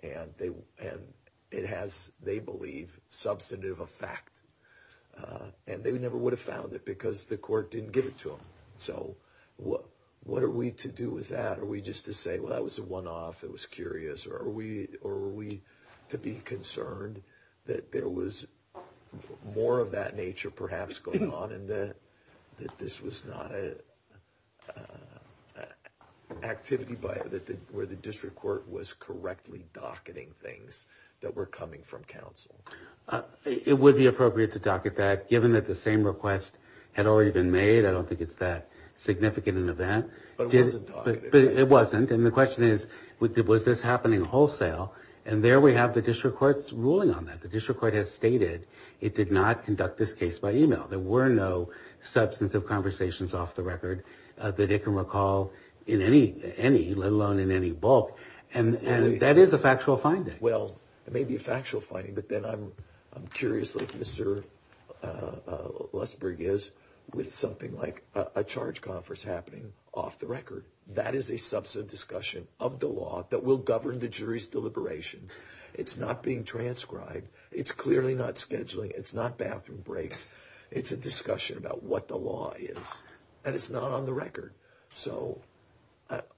and it has, they believe, substantive effect. And they never would have found it because the court didn't get it to them. So what are we to do with that? Are we just to say, well, that was a one-off, it was curious, or are we to be concerned that there was more of that nature perhaps going on and that this was not an activity where the district court was correctly docketing things that were coming from counsel? It would be appropriate to docket that, given that the same request had already been made. I don't think it's that significant an event. But it wasn't docketed. It wasn't. And the question is, was this happening wholesale? And there we have the district court's ruling on that. The district court has stated it did not conduct this case by e-mail. There were no substantive conversations off the record that they can recall in any, let alone in any bulk. And that is a factual finding. Well, it may be a factual finding, but then I'm curious like Mr. Lusberg is with something like a charge conference happening off the record. That is a substantive discussion of the law that will govern the jury's deliberations. It's not being transcribed. It's clearly not scheduling. It's not bathroom breaks. It's a discussion about what the law is. And it's not on the record. So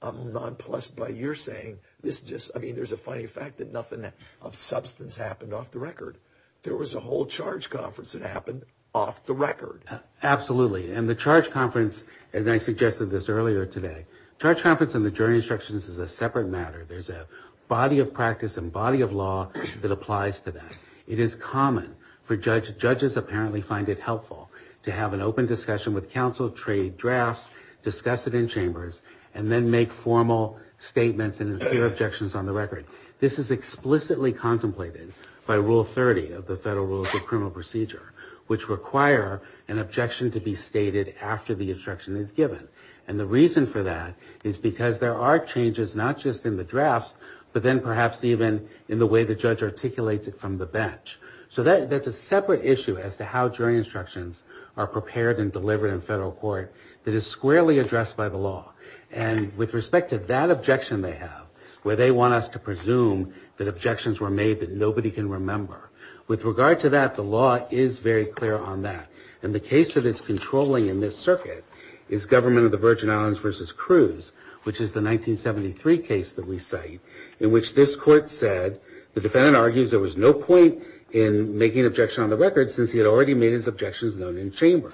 I'm not pleased by your saying this just, I mean, there's a funny fact that nothing of substance happened off the record. There was a whole charge conference that happened off the record. Absolutely. And the charge conference, and I suggested this earlier today, charge conference and the jury instructions is a separate matter. There's a body of practice and body of law that applies to that. It is common for judges apparently find it helpful to have an open discussion with counsel, trade drafts, discuss it in chambers, and then make formal statements and clear objections on the record. This is explicitly contemplated by Rule 30 of the Federal Rules of Criminal Procedure, which require an objection to be stated after the instruction is given. And the reason for that is because there are changes not just in the drafts, but then perhaps even in the way the judge articulates it from the bench. So that's a separate issue as to how jury instructions are prepared and delivered in federal court that is squarely addressed by the law. And with respect to that objection they have, where they want us to presume that objections were made that nobody can remember, with regard to that, the law is very clear on that. And the case that it's controlling in this circuit is Government of the Virgin Islands v. Cruz, which is the 1973 case that we cite in which this court said the defendant argues there was no point in making an objection on the record since he had already made his objections known in chambers.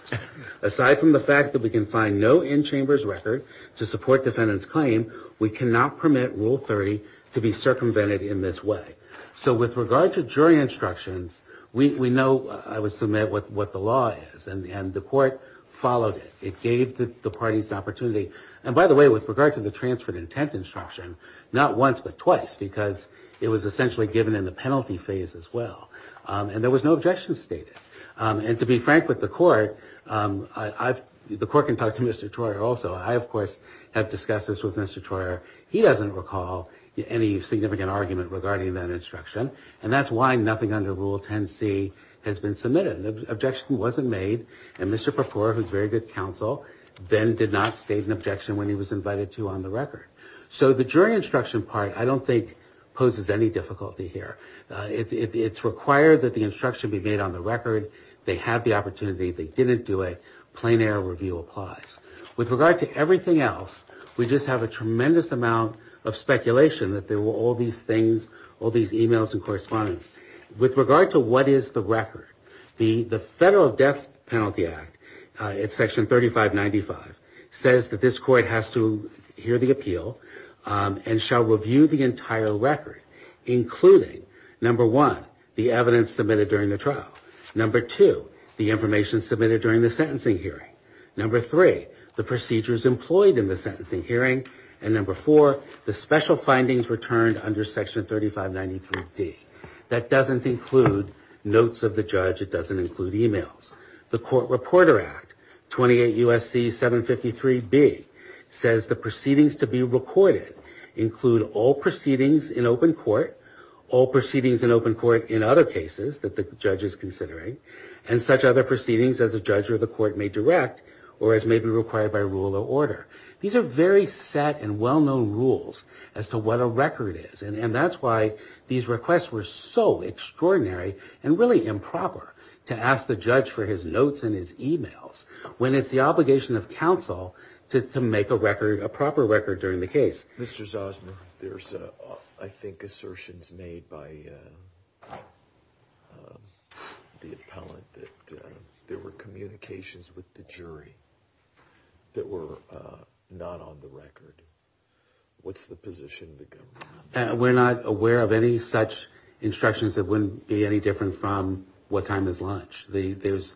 Aside from the fact that we can find no in-chambers record to support defendant's claim, we cannot permit Rule 30 to be circumvented in this way. So with regard to jury instructions, we know, I would submit, what the law is. And the court followed it. It gave the parties the opportunity. And by the way, with regard to the transfer of intent instruction, not once but twice, because it was essentially given in the penalty phase as well. And there was no objection stated. And to be frank with the court, the court can talk to Mr. Troyer also. I, of course, have discussed this with Mr. Troyer. He doesn't recall any significant argument regarding that instruction. And that's why nothing under Rule 10c has been submitted. An objection wasn't made, and Mr. Perfora, who's very good counsel, then did not state an objection when he was invited to on the record. So the jury instruction part, I don't think, poses any difficulty here. It's required that the instruction be made on the record. They have the opportunity. If they didn't do it, plain error review applies. With regard to everything else, we just have a tremendous amount of speculation that there were all these things, all these e-mails and correspondence. With regard to what is the record, the Federal Death Penalty Act, it's Section 3595, says that this court has to hear the appeal and shall review the entire record, including, number one, the evidence submitted during the trial. Number two, the information submitted during the sentencing hearing. Number three, the procedures employed in the sentencing hearing. And number four, the special findings returned under Section 3595B. That doesn't include notes of the judge. It doesn't include e-mails. The Court Reporter Act, 28 U.S.C. 753B, says the proceedings to be recorded include all proceedings in open court, all proceedings in open court in other cases that the judge is considering, and such other proceedings as the judge or the court may direct or as may be required by rule or order. These are very set and well-known rules as to what a record is. And that's why these requests were so extraordinary and really improper to ask the judge for his notes and his e-mails when it's the obligation of counsel to make a proper record during the case. Mr. Zosman, there's, I think, assertions made by the appellant that there were communications with the jury that were not on the record. What's the position of the government? We're not aware of any such instructions that wouldn't be any different from what time is lunch. This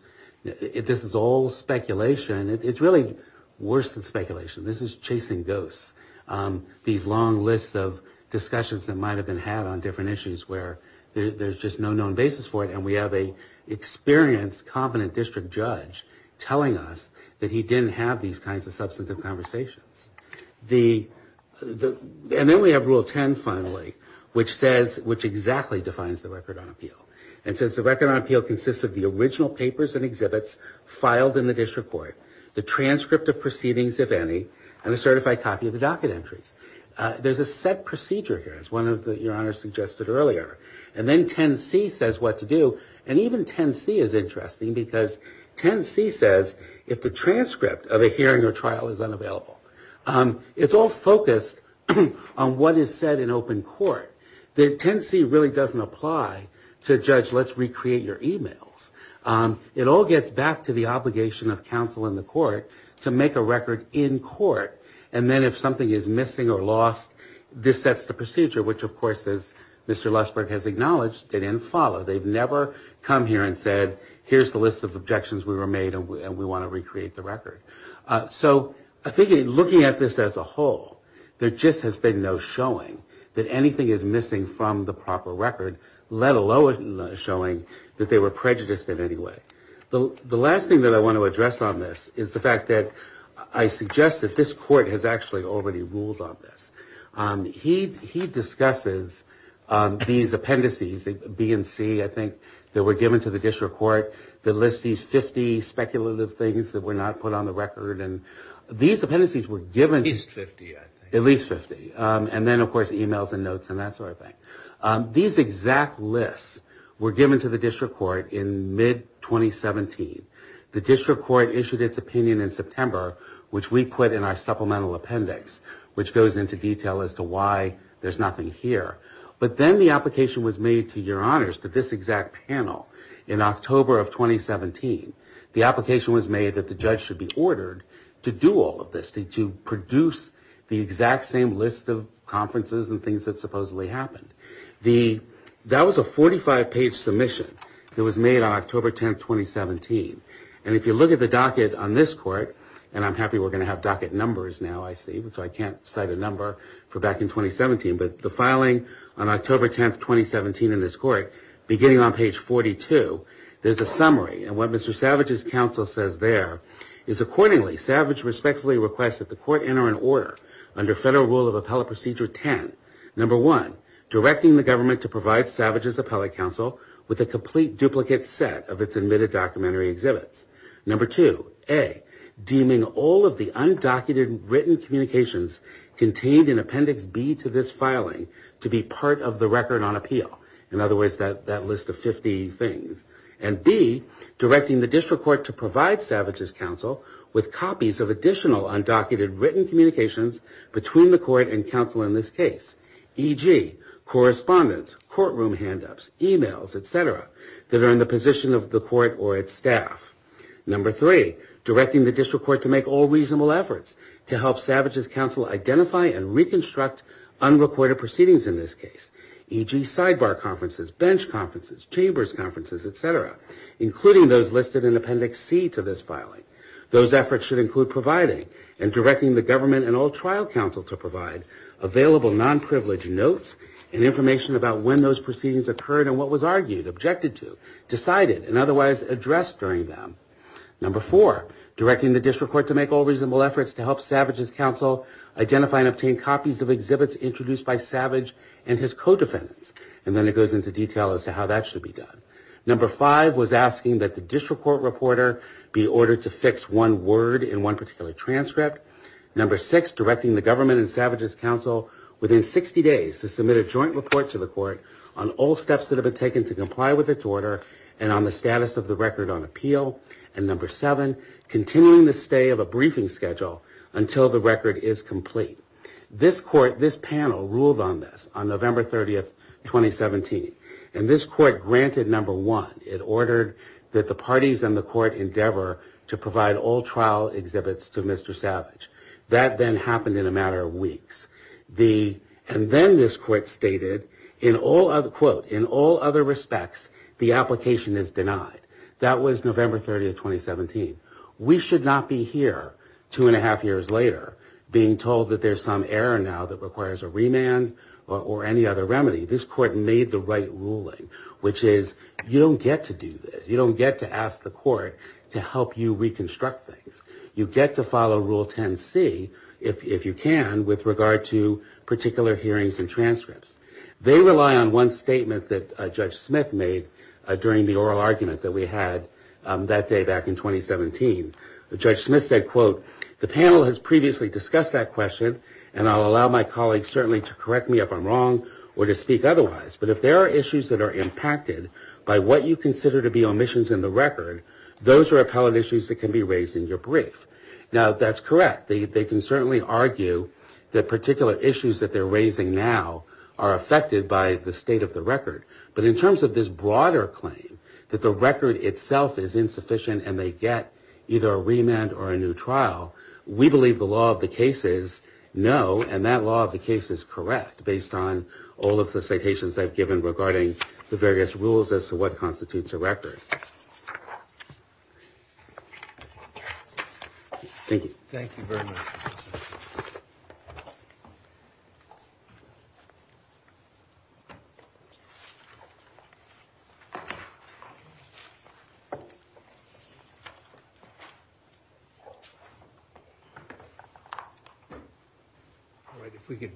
is all speculation. It's really worse than speculation. This is chasing ghosts. These long lists of discussions that might have been had on different issues where there's just no known basis for it, and we have an experienced, competent district judge telling us that he didn't have these kinds of substantive conversations. And then we have rule 10, finally, which says, which exactly defines the record on appeal. It says the record on appeal consists of the original papers and exhibits filed in the district court, the transcript of proceedings, if any, and a certified copy of the docket entries. There's a set procedure here, as one of your honors suggested earlier. And then 10C says what to do. And even 10C is interesting because 10C says if the transcript of a hearing or trial is unavailable. It's all focused on what is said in open court. The 10C really doesn't apply to judge, let's recreate your e-mails. It all gets back to the obligation of counsel in the court to make a record in court, and then if something is missing or lost, this sets the procedure, which, of course, as Mr. Lossberg has acknowledged, didn't follow. They've never come here and said, here's the list of objections we were made and we want to recreate the record. So I think looking at this as a whole, there just has been no showing that anything is missing from the proper record, let alone showing that they were prejudiced in any way. The last thing that I want to address on this is the fact that I suggest that this court has actually already ruled on this. He discusses these appendices, B and C, I think, that were given to the district court that list these 50 speculative things that were not put on the record. These appendices were given at least 50, and then, of course, e-mails and notes and that sort of thing. These exact lists were given to the district court in mid-2017. The district court issued its opinion in September, which we put in our supplemental appendix, which goes into detail as to why there's nothing here. But then the application was made to your honors that this exact panel in October of 2017, the application was made that the judge should be ordered to do all of this, to produce the exact same list of conferences and things that supposedly happened. That was a 45-page submission that was made on October 10, 2017. And if you look at the docket on this court, and I'm happy we're going to have docket numbers now, I see, which I can't cite a number for back in 2017, but the filing on October 10, 2017 in this court, beginning on page 42, there's a summary. And what Mr. Savage's counsel says there is, accordingly, Savage respectfully requests that the court enter an order under federal rule of appellate procedure 10. Number one, directing the government to provide Savage's appellate counsel with a complete duplicate set of its admitted documentary exhibits. Number two, A, deeming all of the undocumented written communications contained in Appendix B to this filing to be part of the record on appeal. In other words, that list of 50 things. And B, directing the district court to provide Savage's counsel with copies of additional undocumented written communications between the court and counsel in this case, e.g., correspondence, courtroom hand-ups, e-mails, etc., that are in the position of the court or its staff. Number three, directing the district court to make all reasonable efforts to help Savage's counsel identify and reconstruct unrecorded proceedings in this case, e.g., sidebar conferences, bench conferences, chambers conferences, etc., including those listed in Appendix C to this filing. Those efforts should include providing and directing the government and all trial counsel to provide available non-privileged notes and information about when those proceedings occurred and what was argued, objected to, decided, and otherwise addressed during them. Number four, directing the district court to make all reasonable efforts to help Savage's counsel identify and obtain copies of exhibits introduced by Savage and his co-defendants. And then it goes into detail as to how that should be done. Number five was asking that the district court reporter be ordered to fix one word in one particular transcript. Number six, directing the government and Savage's counsel within 60 days to comply with its order and on the status of the record on appeal. And number seven, continuing the stay of a briefing schedule until the record is complete. This panel ruled on this on November 30, 2017. And this court granted number one. It ordered that the parties in the court endeavor to provide all trial exhibits to Mr. Savage. That then happened in a matter of weeks. And then this court stated, quote, in all other respects, the application is denied. That was November 30, 2017. We should not be here two and a half years later being told that there's some error now that requires a remand or any other remedy. This court made the right ruling, which is you don't get to do this. You don't get to ask the court to help you reconstruct things. You get to follow Rule 10C, if you can, with regard to particular hearings and transcripts. They rely on one statement that Judge Smith made during the oral argument that we had that day back in 2017. Judge Smith said, quote, the panel has previously discussed that question, and I'll allow my colleagues certainly to correct me if I'm wrong or to speak otherwise. But if there are issues that are impacted by what you consider to be omissions in the record, those are apparent issues that can be raised in your brief. Now, that's correct. They can certainly argue that particular issues that they're raising now are affected by the state of the record. But in terms of this broader claim that the record itself is insufficient and they get either a remand or a new trial, we believe the law of the case is no, and that law of the case is correct based on all of the citations I've given regarding the various rules as to what constitutes a record. Thank you. Thank you very much. If we could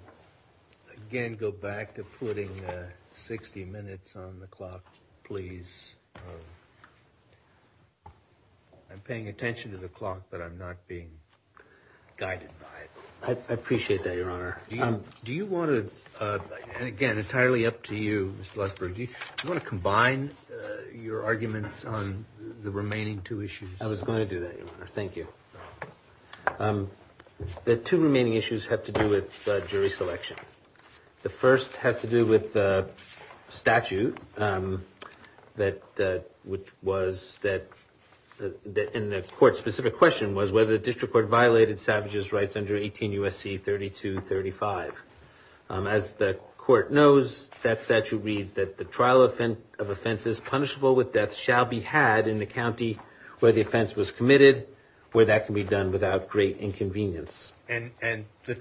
again go back to putting 60 minutes on the clock, please. I'm paying attention to the clock, but I'm not being guided by it. Do you want to combine your arguments on the remaining two issues? I was going to do that. Thank you. The two remaining issues have to do with jury selection. The first has to do with the statute, which was that in the court's specific question was whether the district court violated Savage's rights under 18 U.S.C. 3235. As the court knows, that statute reads that the trial of offenses punishable with death shall be had in the county where the offense was committed, where that can be done without great inconvenience. Yes, and the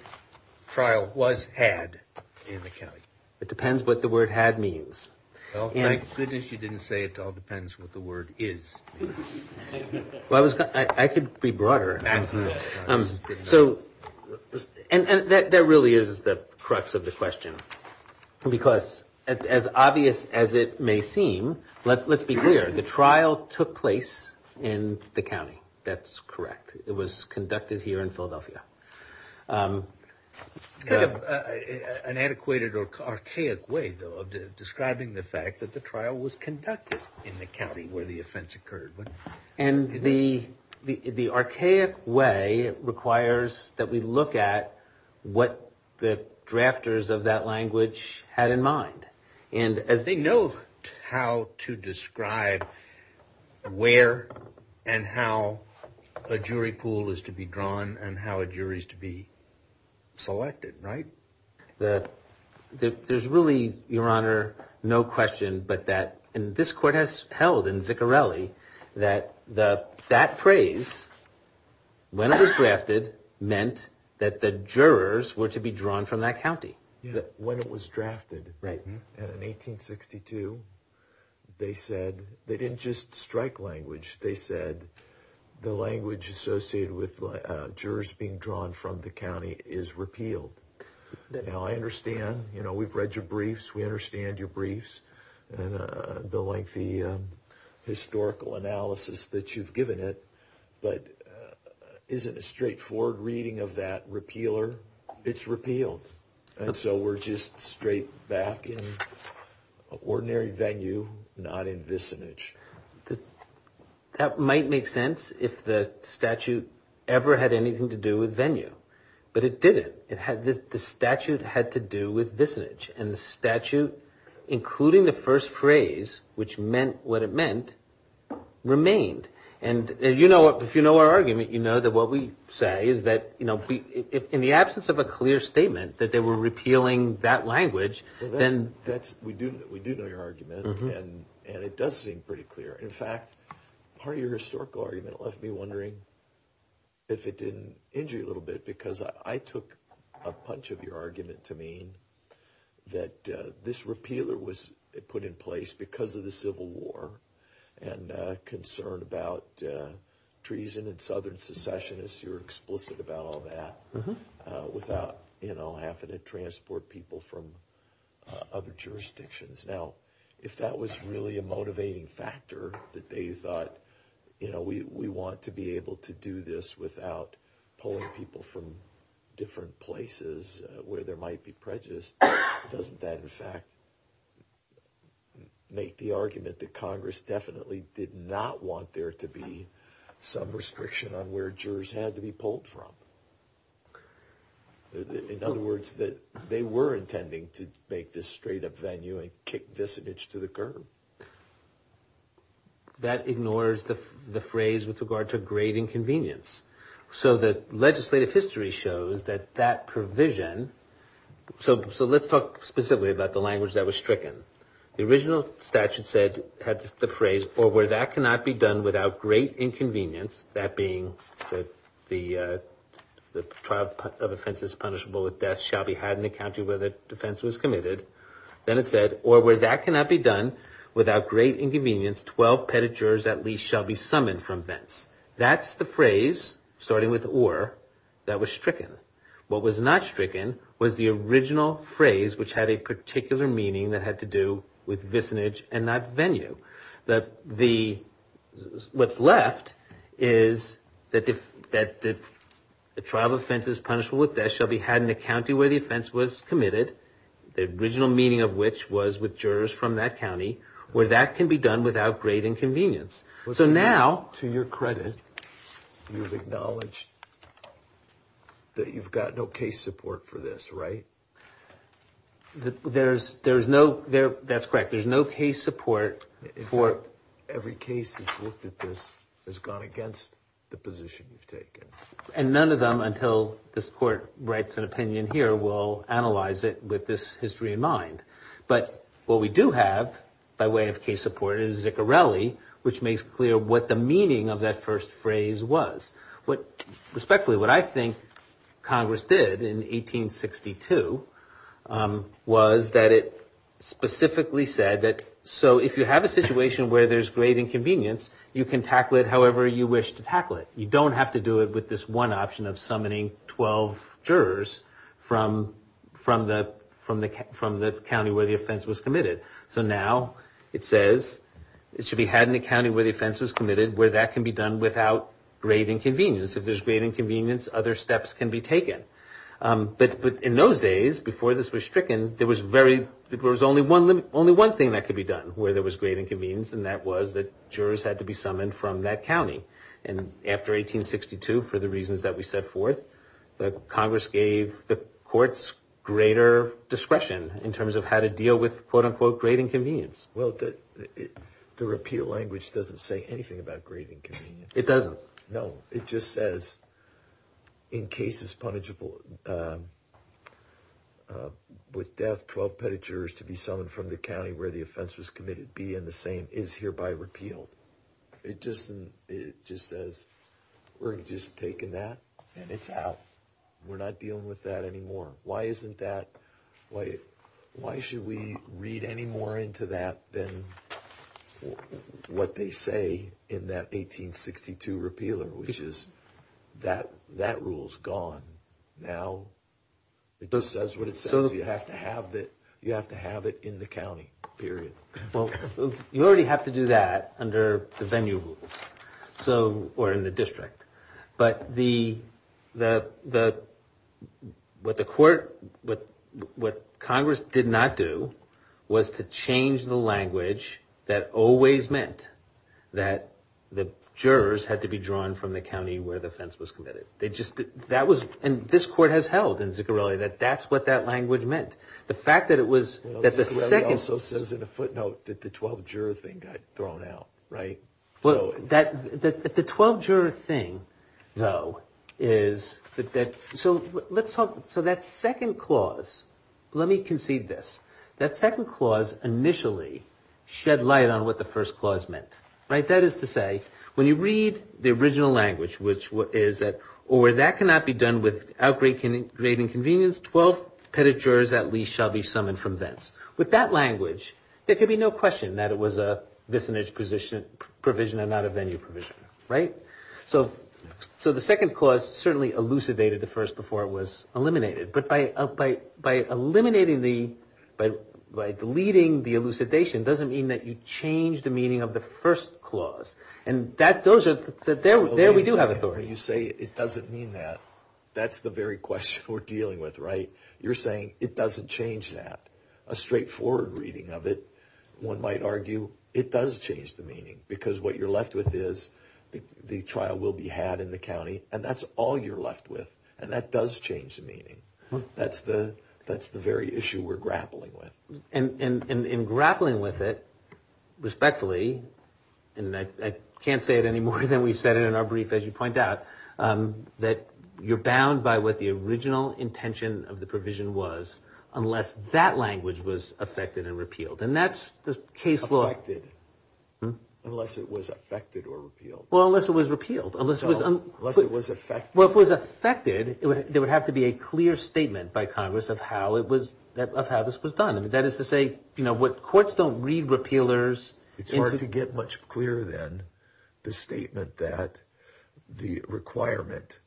trial was had in the county. It depends what the word had means. Thank goodness you didn't say it all depends what the word is. I could be broader. That really is the crux of the question, because as obvious as it may seem, let's be clear. The trial took place in the county. That's correct. It was conducted here in Philadelphia. An antiquated or archaic way of describing the fact that the trial was conducted in the county where the offense occurred. The archaic way requires that we look at what the drafters of that language had in mind. They know how to describe where and how a jury pool is to be drawn and how a jury is to be selected, right? There's really, Your Honor, no question but that this court has held in Vicorelli that that phrase, when it was drafted, meant that the jurors were to be drawn from that county. When it was drafted in 1862, they didn't just strike language. They said the language associated with jurors being drawn from the county is repealed. Now, I understand. We've read your briefs. We understand your briefs and the lengthy historical analysis that you've given it, but isn't a straightforward reading of that repealer? It's repealed, and so we're just straight back in ordinary venue, not in vicinage. That might make sense if the statute ever had anything to do with venue, but it didn't. The statute had to do with vicinage, and the statute, including the first phrase, which meant what it meant, remained. If you know our argument, you know that what we say is that in the absence of a clear statement that they were repealing that language, then that's- We do know your argument, and it does seem pretty clear. In fact, part of your historical argument left me wondering if it didn't injure you a little bit because I took a punch of your argument to mean that this repealer was put in place because of the Civil War and concern about treason and southern secessionists. You're explicit about all that without having to transport people from other jurisdictions. Now, if that was really a motivating factor that they thought, we want to be able to do this without pulling people from different places where there might be prejudice, doesn't that, in fact, make the argument that Congress definitely did not want there to be some restriction on where jurors had to be pulled from? In other words, that they were intending to make this straight up venue and kick vicinage to the curb. That ignores the phrase with regard to great inconvenience. The legislative history shows that that provision- Let's talk specifically about the language that was stricken. The original statute had the phrase, or where that cannot be done without great inconvenience, that being that the trial of offense is punishable with death, shall be had in the county where the offense was committed. Then it said, or where that cannot be done without great inconvenience, 12 petted jurors at least shall be summoned from thence. That's the phrase, starting with or, that was stricken. What was not stricken was the original phrase, which had a particular meaning that had to do with vicinage and not venue. What's left is that the trial of offense is punishable with death, shall be had in the county where the offense was committed, the original meaning of which was with jurors from that county, where that can be done without great inconvenience. Now, to your credit, you've acknowledged that you've got no case support for this, right? That's correct. There's no case support for- Every case that's looked at this has gone against the position you've taken. None of them, until this court writes an opinion here, will analyze it with this history in mind. What we do have, by way of case support, is Ziccarelli, which makes clear what the meaning of that first phrase was. Respectfully, what I think Congress did in 1862 was that it specifically said that, so if you have a situation where there's great inconvenience, you can tackle it however you wish to tackle it. You don't have to do it with this one option of summoning 12 jurors from the county where the offense was committed. Now, it says it should be had in the county where the offense was committed, where that can be done without great inconvenience. If there's great inconvenience, other steps can be taken. But in those days, before this was stricken, there was only one thing that could be done where there was great inconvenience, and that was that jurors had to be summoned from that county. After 1862, for the reasons that we set forth, Congress gave the courts greater discretion in terms of how to deal with quote-unquote great inconvenience. Well, the repeal language doesn't say anything about great inconvenience. It doesn't? No, it just says, in cases punishable with death, 12 petty jurors to be summoned from the county where the offense was committed, be in the same, is hereby repealed. It just says, we're just taking that, and it's out. We're not dealing with that anymore. Why shouldn't we read any more into that than what they say in that 1862 repeal, which is that rule's gone. Now, it just says what it says. You have to have it in the county, period. Well, you already have to do that under the venue rules, or in the district. But what Congress did not do was to change the language that always meant that the jurors had to be drawn from the county where the offense was committed. And this court has held in Ziccarelli that that's what that language meant. Ziccarelli also says in a footnote that the 12 juror thing got thrown out. The 12 juror thing, though, is that that second clause, let me concede this, that second clause initially shed light on what the first clause meant. That is to say, when you read the original language, which is that, or that cannot be done without great inconvenience, 12 pettish jurors at least shall be summoned from thence. With that language, there could be no question that it was a vicinage provision and not a venue provision. So the second clause certainly elucidated the first before it was eliminated. But by eliminating the, by deleting the elucidation doesn't mean that you change the meaning of the first clause. And that, those are, there we do have authority. When you say it doesn't mean that, that's the very question we're dealing with, right? You're saying it doesn't change that. A straightforward reading of it, one might argue it does change the meaning. Because what you're left with is the trial will be had in the county, and that's all you're left with. And that does change the meaning. That's the, that's the very issue we're grappling with. And in grappling with it, respectfully, and I can't say it any more than we've said it in our brief as you point out, that you're bound by what the original intention of the provision was unless that language was affected and repealed. And that's the case law. Affected. Unless it was affected or repealed. Well, unless it was repealed. Unless it was. Unless it was affected. Well, if it was affected, there would have to be a clear statement by Congress of how it was, of how this was done. And that is to say, you know, courts don't read repealers. It's hard to get much clearer than the statement that the requirement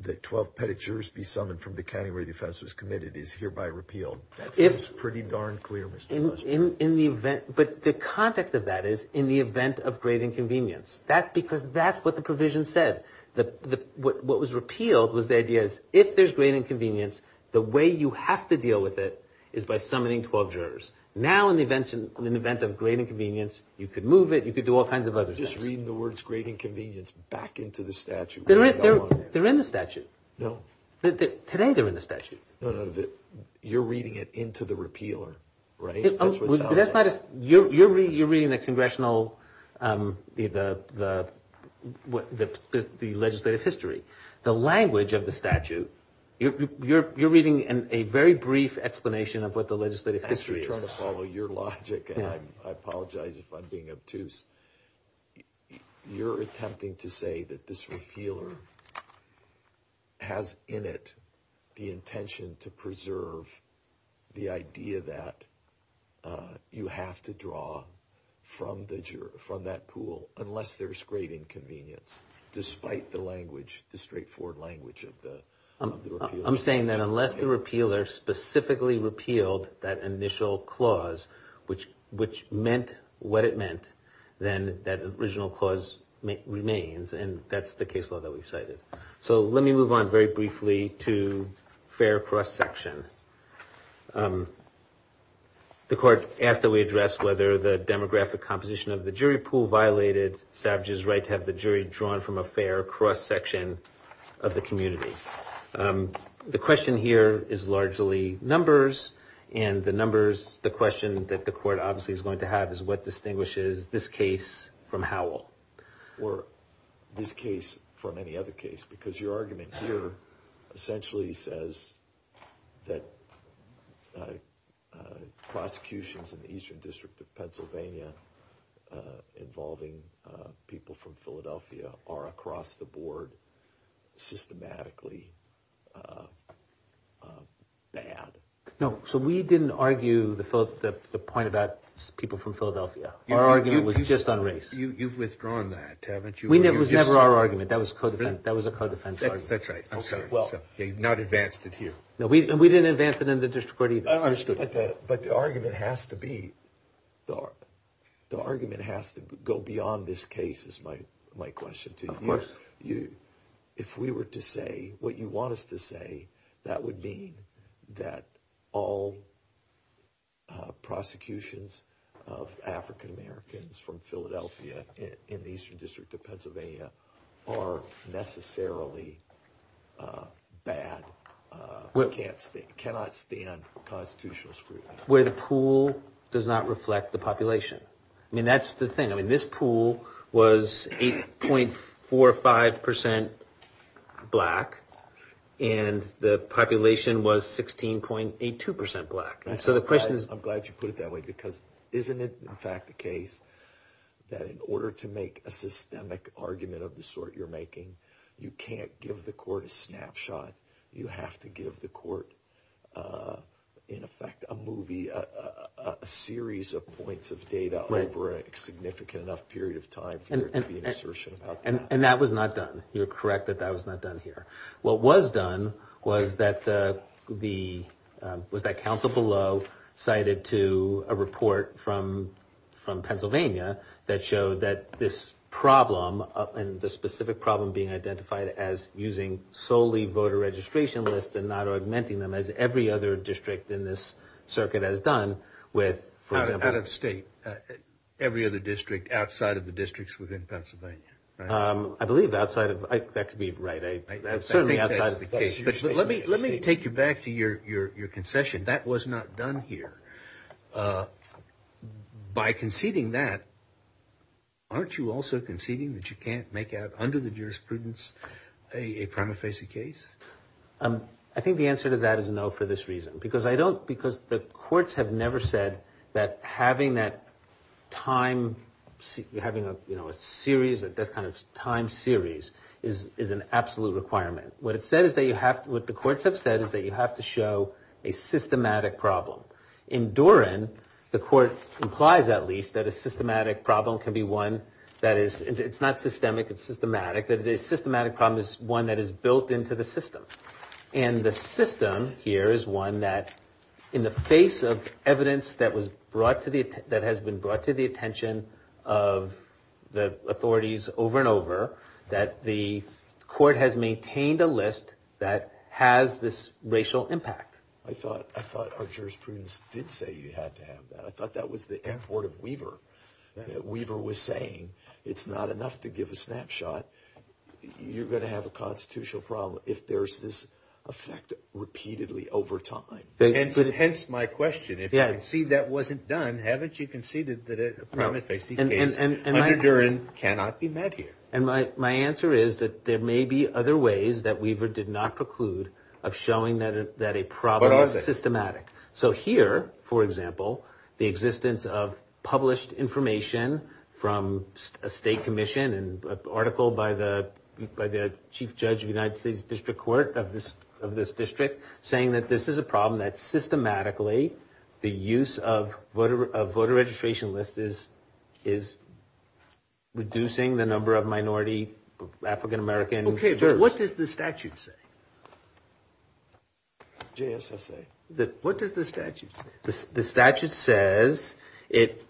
that 12 petitiors be summoned from the County Ready Defensors Committee is hereby repealed. That seems pretty darn clear, Mr. Bush. In the event, but the context of that is in the event of great inconvenience. That's because that's what the provision said. What was repealed was the idea that if there's great inconvenience, the way you have to deal with it is by summoning 12 jurors. Now in the event of great inconvenience, you could move it, you could do all kinds of other things. I'm just reading the words great inconvenience back into the statute. They're in the statute. No. Today they're in the statute. No, no. You're reading it into the repealer, right? You're reading the congressional, the legislative history. The language of the statute, you're reading a very brief explanation of what the legislative history is. I'm trying to follow your logic, and I apologize if I'm being obtuse. You're attempting to say that this repealer has in it the intention to preserve the idea that you have to draw from that pool unless there's great inconvenience, despite the language, the straightforward language of the repealer. If the repealer specifically repealed that initial clause, which meant what it meant, then that original clause remains, and that's the case law that we cited. So let me move on very briefly to fair cross-section. The court asked that we address whether the demographic composition of the jury pool violated Savage's right to have the jury drawn from a fair cross-section of the community. The question here is largely numbers, and the numbers, the question that the court obviously is going to have is what distinguishes this case from Howell or this case from any other case, because your argument here essentially says that prosecutions in the Eastern District of Pennsylvania involving people from Philadelphia are across the board systematically. No, so we didn't argue the point about people from Philadelphia. Our argument was just on race. You've withdrawn that, haven't you? It was never our argument. That was a code of defense argument. That's right. Not advanced it here. No, we didn't advance it in the district court either. I understood that. But the argument has to go beyond this case, is my question to you. Of course. If we were to say what you want us to say, that would mean that all prosecutions of African Americans from Philadelphia in the Eastern District of Pennsylvania are necessarily bad, cannot stand constitutional scrutiny. Where the pool does not reflect the population. I mean, that's the thing. I mean, this pool was 8.45% black, and the population was 16.82% black. I'm glad you put it that way, because isn't it in fact the case that in order to make a systemic argument of the sort you're making, you can't give the court a snapshot. You have to give the court, in effect, a movie, a series of points of data over a significant enough period of time for the assertion. And that was not done. You're correct that that was not done here. What was done was that the council below cited to a report from Pennsylvania that showed that this problem, and the specific problem being identified as using solely voter registration lists and not augmenting them as every other district in this circuit has done. Out of state. Every other district outside of the districts within Pennsylvania. I believe outside of, that could be right. Certainly outside of the case. Let me take you back to your concession. That was not done here. By conceding that, aren't you also conceding that you can't make out under the jurisprudence a prima facie case? I think the answer to that is no for this reason. Because the courts have never said that having that time series is an absolute requirement. What the courts have said is that you have to show a systematic problem. In Doran, the court implies at least that a systematic problem can be one that is, it's not systemic, it's systematic. The systematic problem is one that is built into the system. And the system here is one that, in the face of evidence that has been brought to the attention of the authorities over and over, that the court has maintained a list that has this racial impact. I thought our jurisprudence did say you had to have that. I thought that was the effort of Weaver. Weaver was saying it's not enough to give a snapshot. You're going to have a constitutional problem if there's this effect repeatedly over time. And hence my question. If you concede that wasn't done, haven't you conceded that a prima facie case under Doran cannot be met here? And my answer is that there may be other ways that Weaver did not preclude of showing that a problem is systematic. So here, for example, the existence of published information from a state commission and an article by the chief judge of the United States District Court of this district saying that this is a problem, that systematically the use of voter registration lists is reducing the number of minority African-Americans. Okay, but what does the statute say? What does the statute say? The statute says it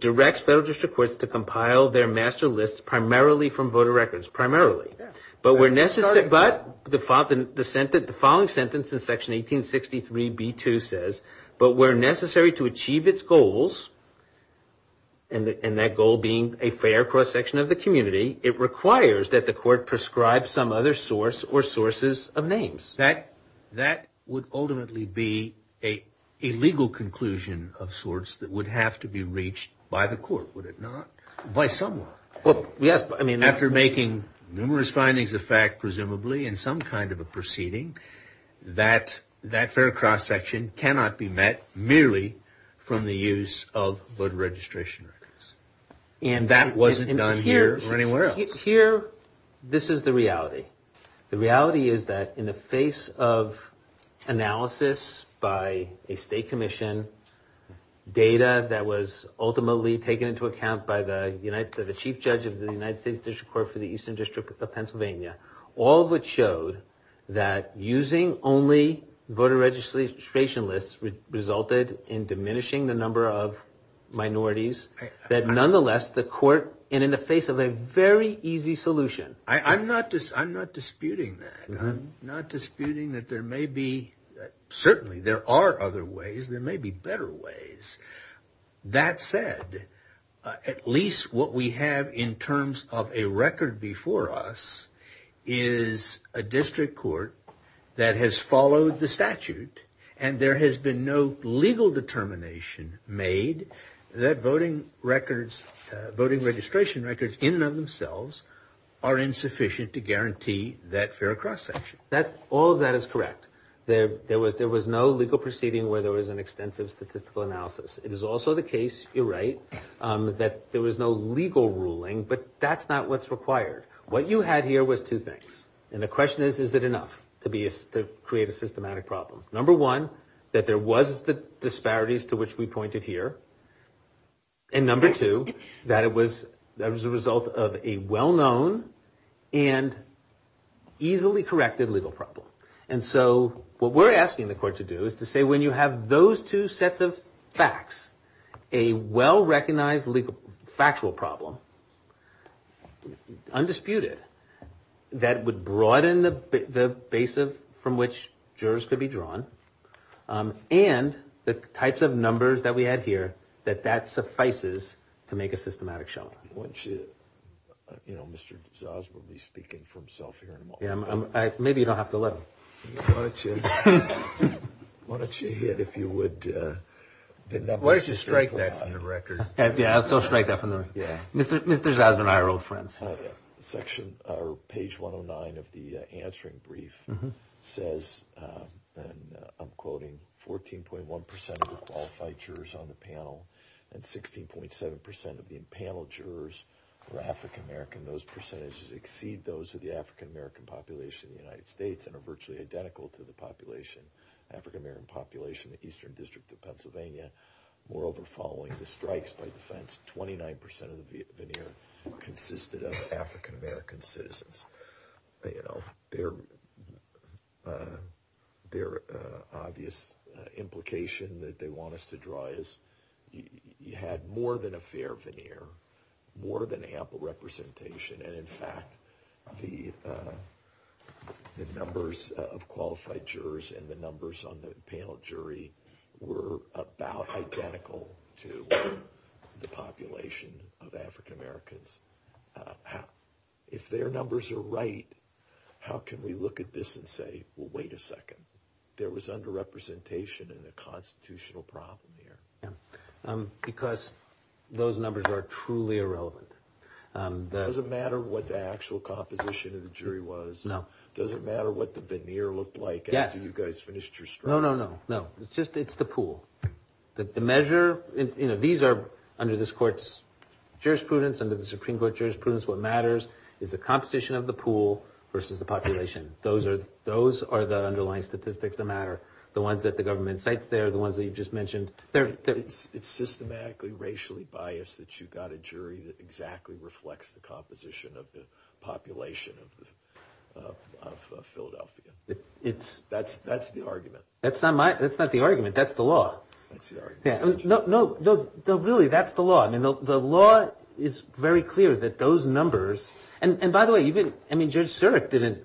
directs federal district courts to compile their master lists primarily from voter records. Primarily. But the following sentence in section 1863b2 says, but where necessary to achieve its goals, and that goal being a fair cross-section of the community, it requires that the court prescribe some other source or sources of names. That would ultimately be a legal conclusion of sorts that would have to be reached by the court, would it not? By someone. After making numerous findings of fact, presumably in some kind of a proceeding, that fair cross-section cannot be met merely from the use of voter registration records. And that wasn't done here or anywhere else. Here, this is the reality. The reality is that in the face of analysis by a state commission, data that was ultimately taken into account by the chief judge of the United States District Court for the Eastern District of Pennsylvania, all of which showed that using only voter registration lists resulted in diminishing the number of minorities, that nonetheless the court, and in the face of a very easy solution. I'm not disputing that. I'm not disputing that there may be, certainly there are other ways, there may be better ways. That said, at least what we have in terms of a record before us is a district court that has followed the statute, and there has been no legal determination made that voting registration records in and of themselves are insufficient to guarantee that fair cross-section. All of that is correct. There was no legal proceeding where there was an extensive statistical analysis. It is also the case, you're right, that there was no legal ruling, but that's not what's required. What you had here was two things, and the question is, is it enough to create a systematic problem? Number one, that there was the disparities to which we pointed here, and number two, that it was a result of a well-known and easily corrected legal problem. And so what we're asking the court to do is to say when you have those two sets of facts, a well-recognized legal factual problem, undisputed, that would broaden the base from which jurors could be drawn, and the types of numbers that we have here, that that suffices to make a systematic show. Mr. D'Souza will be speaking for himself here. Maybe you don't have to look. Why don't you hit, if you would, the numbers. Why don't you strike that from the record? Yeah, I'll go strike that from the record. Page 109 of the answering brief says, and I'm quoting, 14.1 percent of the qualified jurors on the panel and 16.7 percent of the panel jurors were African-American. Those percentages exceed those of the African-American population in the United States and are virtually identical to the population, African-American population in the Eastern District of Pennsylvania. Moreover, following the strikes by defense, 29 percent of the veneer consisted of African-American citizens. Their obvious implication that they want us to draw is you had more than a fair veneer, more than ample representation. And in fact, the numbers of qualified jurors and the numbers on the panel jury were about identical to the population of African-Americans. If their numbers are right, how can we look at this and say, well, wait a second, there was underrepresentation in the constitutional problem here? Because those numbers are truly irrelevant. Does it matter what the actual composition of the jury was? No. Does it matter what the veneer looked like after you guys finished your strike? No, no, no, no. It's just, it's the pool. The measure, you know, these are under this court's jurisprudence, under the Supreme Court jurisprudence, what matters is the composition of the pool versus the population. Those are the underlying statistics that matter. The ones that the government cites there, the ones that you just mentioned. It's systematically racially biased that you've got a jury that exactly reflects the composition of the population of Philadelphia. That's the argument. That's not my, that's not the argument. That's the law. That's the argument. No, really, that's the law. I mean, the law is very clear that those numbers, and by the way, you didn't, I mean, Judge Surek didn't,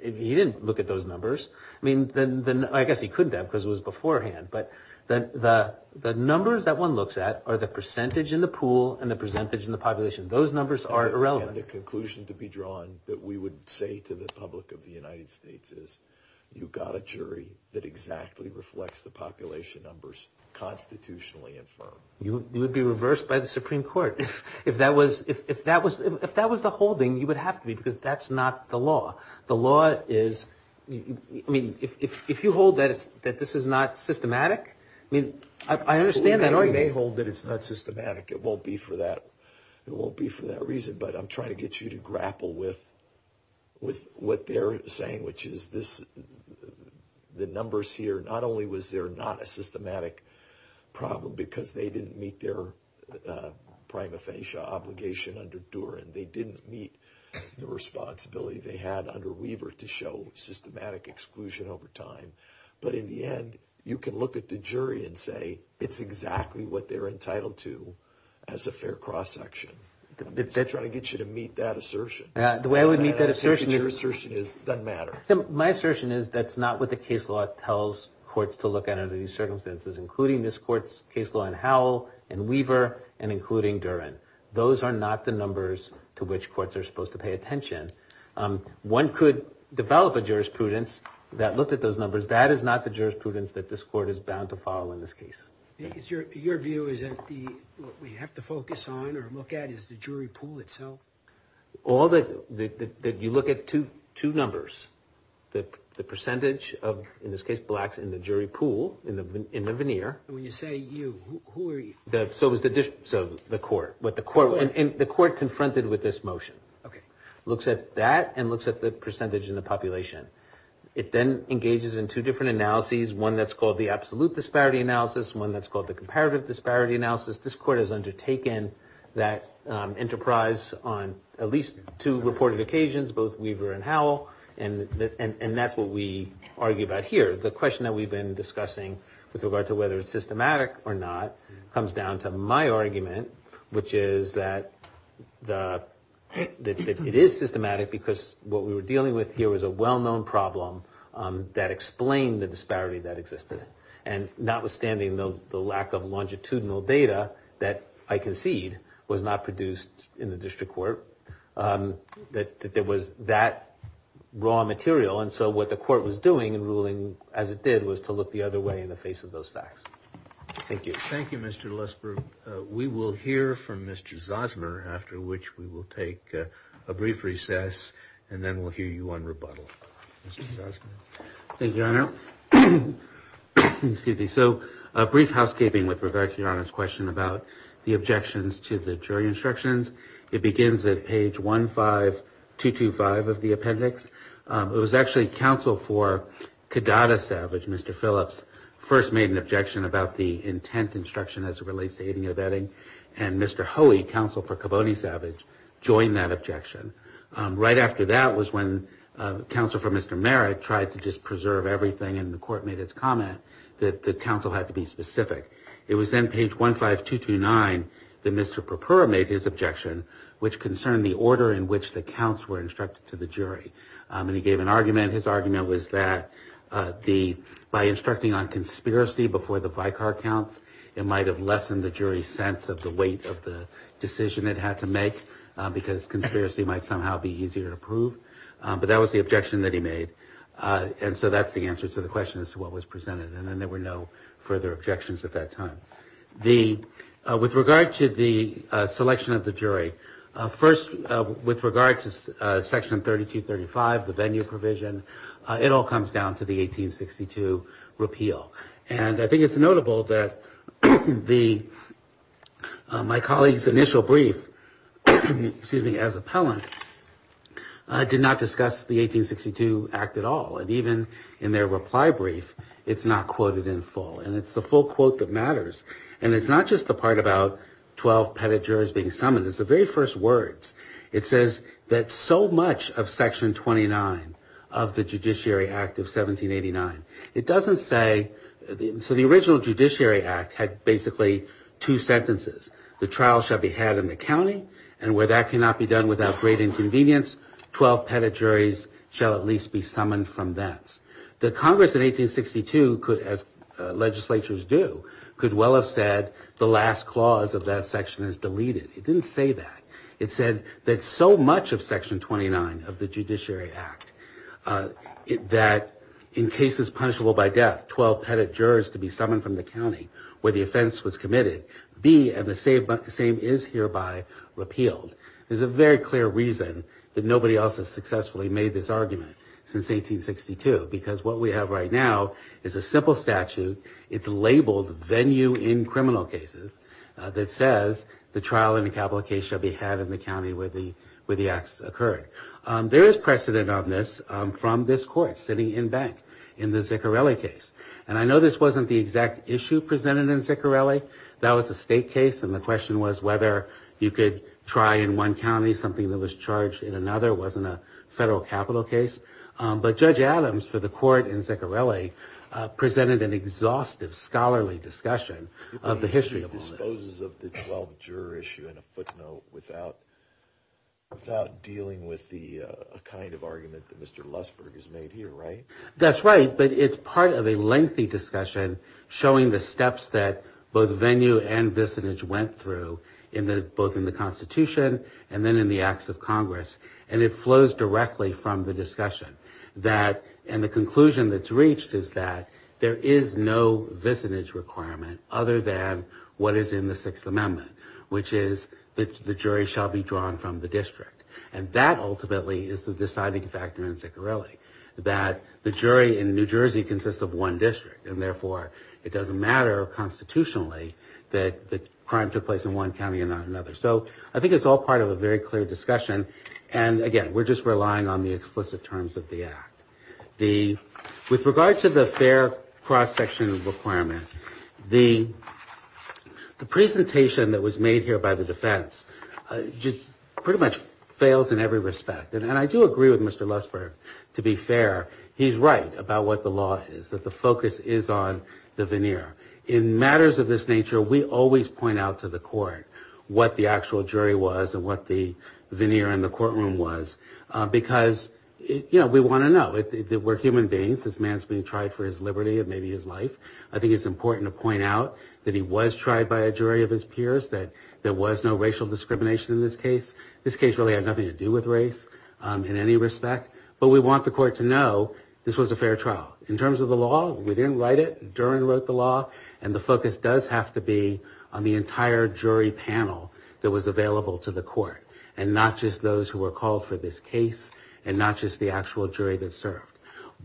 he didn't look at those numbers. I mean, I guess he could have because it was beforehand. But the numbers that one looks at are the percentage in the pool and the percentage in the population. Those numbers are irrelevant. Again, the conclusion to be drawn that we would say to the public of the United States is you've got a jury that exactly reflects the population numbers, constitutionally and firmly. You would be reversed by the Supreme Court. If that was the holding, you would have to be because that's not the law. The law is, I mean, if you hold that this is not systematic, I mean, I understand that. I know you may hold that it's not systematic. It won't be for that. It won't be for that reason, but I'm trying to get you to grapple with what they're saying, which is this, the numbers here, not only was there not a systematic problem because they didn't meet their prima facie obligation under Duran. They didn't meet the responsibility. They had under Weaver to show systematic exclusion over time. But in the end, you can look at the jury and say it's exactly what they're entitled to as a fair cross-section. I'm trying to get you to meet that assertion. The way I would meet that assertion is. Your assertion is it doesn't matter. My assertion is that's not what the case law tells courts to look at under these circumstances, including this court's case law in Howell and Weaver and including Duran. Those are not the numbers to which courts are supposed to pay attention. One could develop a jurisprudence that looked at those numbers. That is not the jurisprudence that this court is bound to follow in this case. Your view is that what we have to focus on or look at is the jury pool itself? All that you look at two numbers, the percentage of, in this case, blacks in the jury pool, in the veneer. When you say you, who are you? So the court. The court confronted with this motion. It looks at that and looks at the percentage in the population. It then engages in two different analyses, one that's called the absolute disparity analysis, one that's called the comparative disparity analysis. This court has undertaken that enterprise on at least two reported occasions, both Weaver and Howell, and that's what we argue about here. The question that we've been discussing with regard to whether it's systematic or not comes down to my argument, which is that it is systematic because what we were dealing with here was a well-known problem that explained the disparity that existed. And notwithstanding the lack of longitudinal data that I concede was not produced in the district court, that there was that raw material. And so what the court was doing in ruling as it did was to look the other way in the face of those facts. Thank you. Thank you, Mr. Lesbrueck. We will hear from Mr. Zosner, after which we will take a brief recess, and then we'll hear you on rebuttal. Mr. Zosner. Thank you, Your Honor. So a brief housekeeping with regard to Your Honor's question about the objections to the jury instructions. It begins at page 15225 of the appendix. It was actually counsel for Cadata Savage, Mr. Phillips, first made an objection about the intent instruction as it relates to aiding or vetting, and Mr. Hoey, counsel for Cavoni Savage, joined that objection. Right after that was when counsel for Mr. Merritt tried to just preserve everything, and the court made its comment that the counsel had to be specific. It was then page 15229 that Mr. Perpera made his objection, which concerned the order in which the counts were instructed to the jury. And he gave an argument. His argument was that by instructing on conspiracy before the Vicar counts, it might have lessened the jury's sense of the weight of the decision it had to make because conspiracy might somehow be easier to prove. But that was the objection that he made. And so that's the answer to the question as to what was presented. And then there were no further objections at that time. With regard to the selection of the jury, first with regard to section 3235, the venue provision, it all comes down to the 1862 repeal. And I think it's notable that my colleague's initial brief as appellant did not discuss the 1862 Act at all. And even in their reply brief, it's not quoted in full. And it's the full quote that matters. And it's not just the part about 12 petted juries being summoned. It's the very first words. It says that so much of section 29 of the Judiciary Act of 1789, it doesn't say the original Judiciary Act had basically two sentences. The trial shall be had in the county, and where that cannot be done without great inconvenience, 12 petted juries shall at least be summoned from thence. The Congress in 1862, as legislatures do, could well have said the last clause of that section is deleted. It didn't say that. It said that so much of section 29 of the Judiciary Act, that in cases punishable by death, 12 petted jurors to be summoned from the county where the offense was committed, be and the same is hereby repealed. There's a very clear reason that nobody else has successfully made this argument since 1862, because what we have right now is a simple statute. It's labeled venue in criminal cases that says the trial and the capital case shall be had in the county where the acts occurred. There is precedent on this from this court sitting in bank in the Ziccarelli case. And I know this wasn't the exact issue presented in Ziccarelli. That was a state case, and the question was whether you could try in one county something that was charged in another. It wasn't a federal capital case. But Judge Adams, for the court in Ziccarelli, presented an exhaustive scholarly discussion of the history of the offense. It disposes of the 12 juror issue in a footnote without dealing with the kind of argument that Mr. Lussberg has made here, right? That's right, but it's part of a lengthy discussion showing the steps that both venue and visinage went through, both in the Constitution and then in the Acts of Congress. And it flows directly from the discussion. And the conclusion that's reached is that there is no visinage requirement other than what is in the Sixth Amendment, which is that the jury shall be drawn from the district. And that ultimately is the deciding factor in Ziccarelli, that the jury in New Jersey consists of one district. And therefore, it doesn't matter constitutionally that the crime took place in one county and not another. So I think it's all part of a very clear discussion. And again, we're just relying on the explicit terms of the Act. With regard to the fair cross-section requirement, the presentation that was made here by the defense just pretty much fails in every respect. And I do agree with Mr. Lussberg, to be fair. He's right about what the law is, that the focus is on the veneer. In matters of this nature, we always point out to the court what the actual jury was and what the veneer in the courtroom was, because we want to know. We're human beings. This man's being tried for his liberty and maybe his life. I think it's important to point out that he was tried by a jury of his peers, that there was no racial discrimination in this case. This case really had nothing to do with race in any respect. But we want the court to know this was a fair trial. In terms of the law, we didn't write it. Dern wrote the law. And the focus does have to be on the entire jury panel that was available to the court, and not just those who were called for this case and not just the actual jury that served.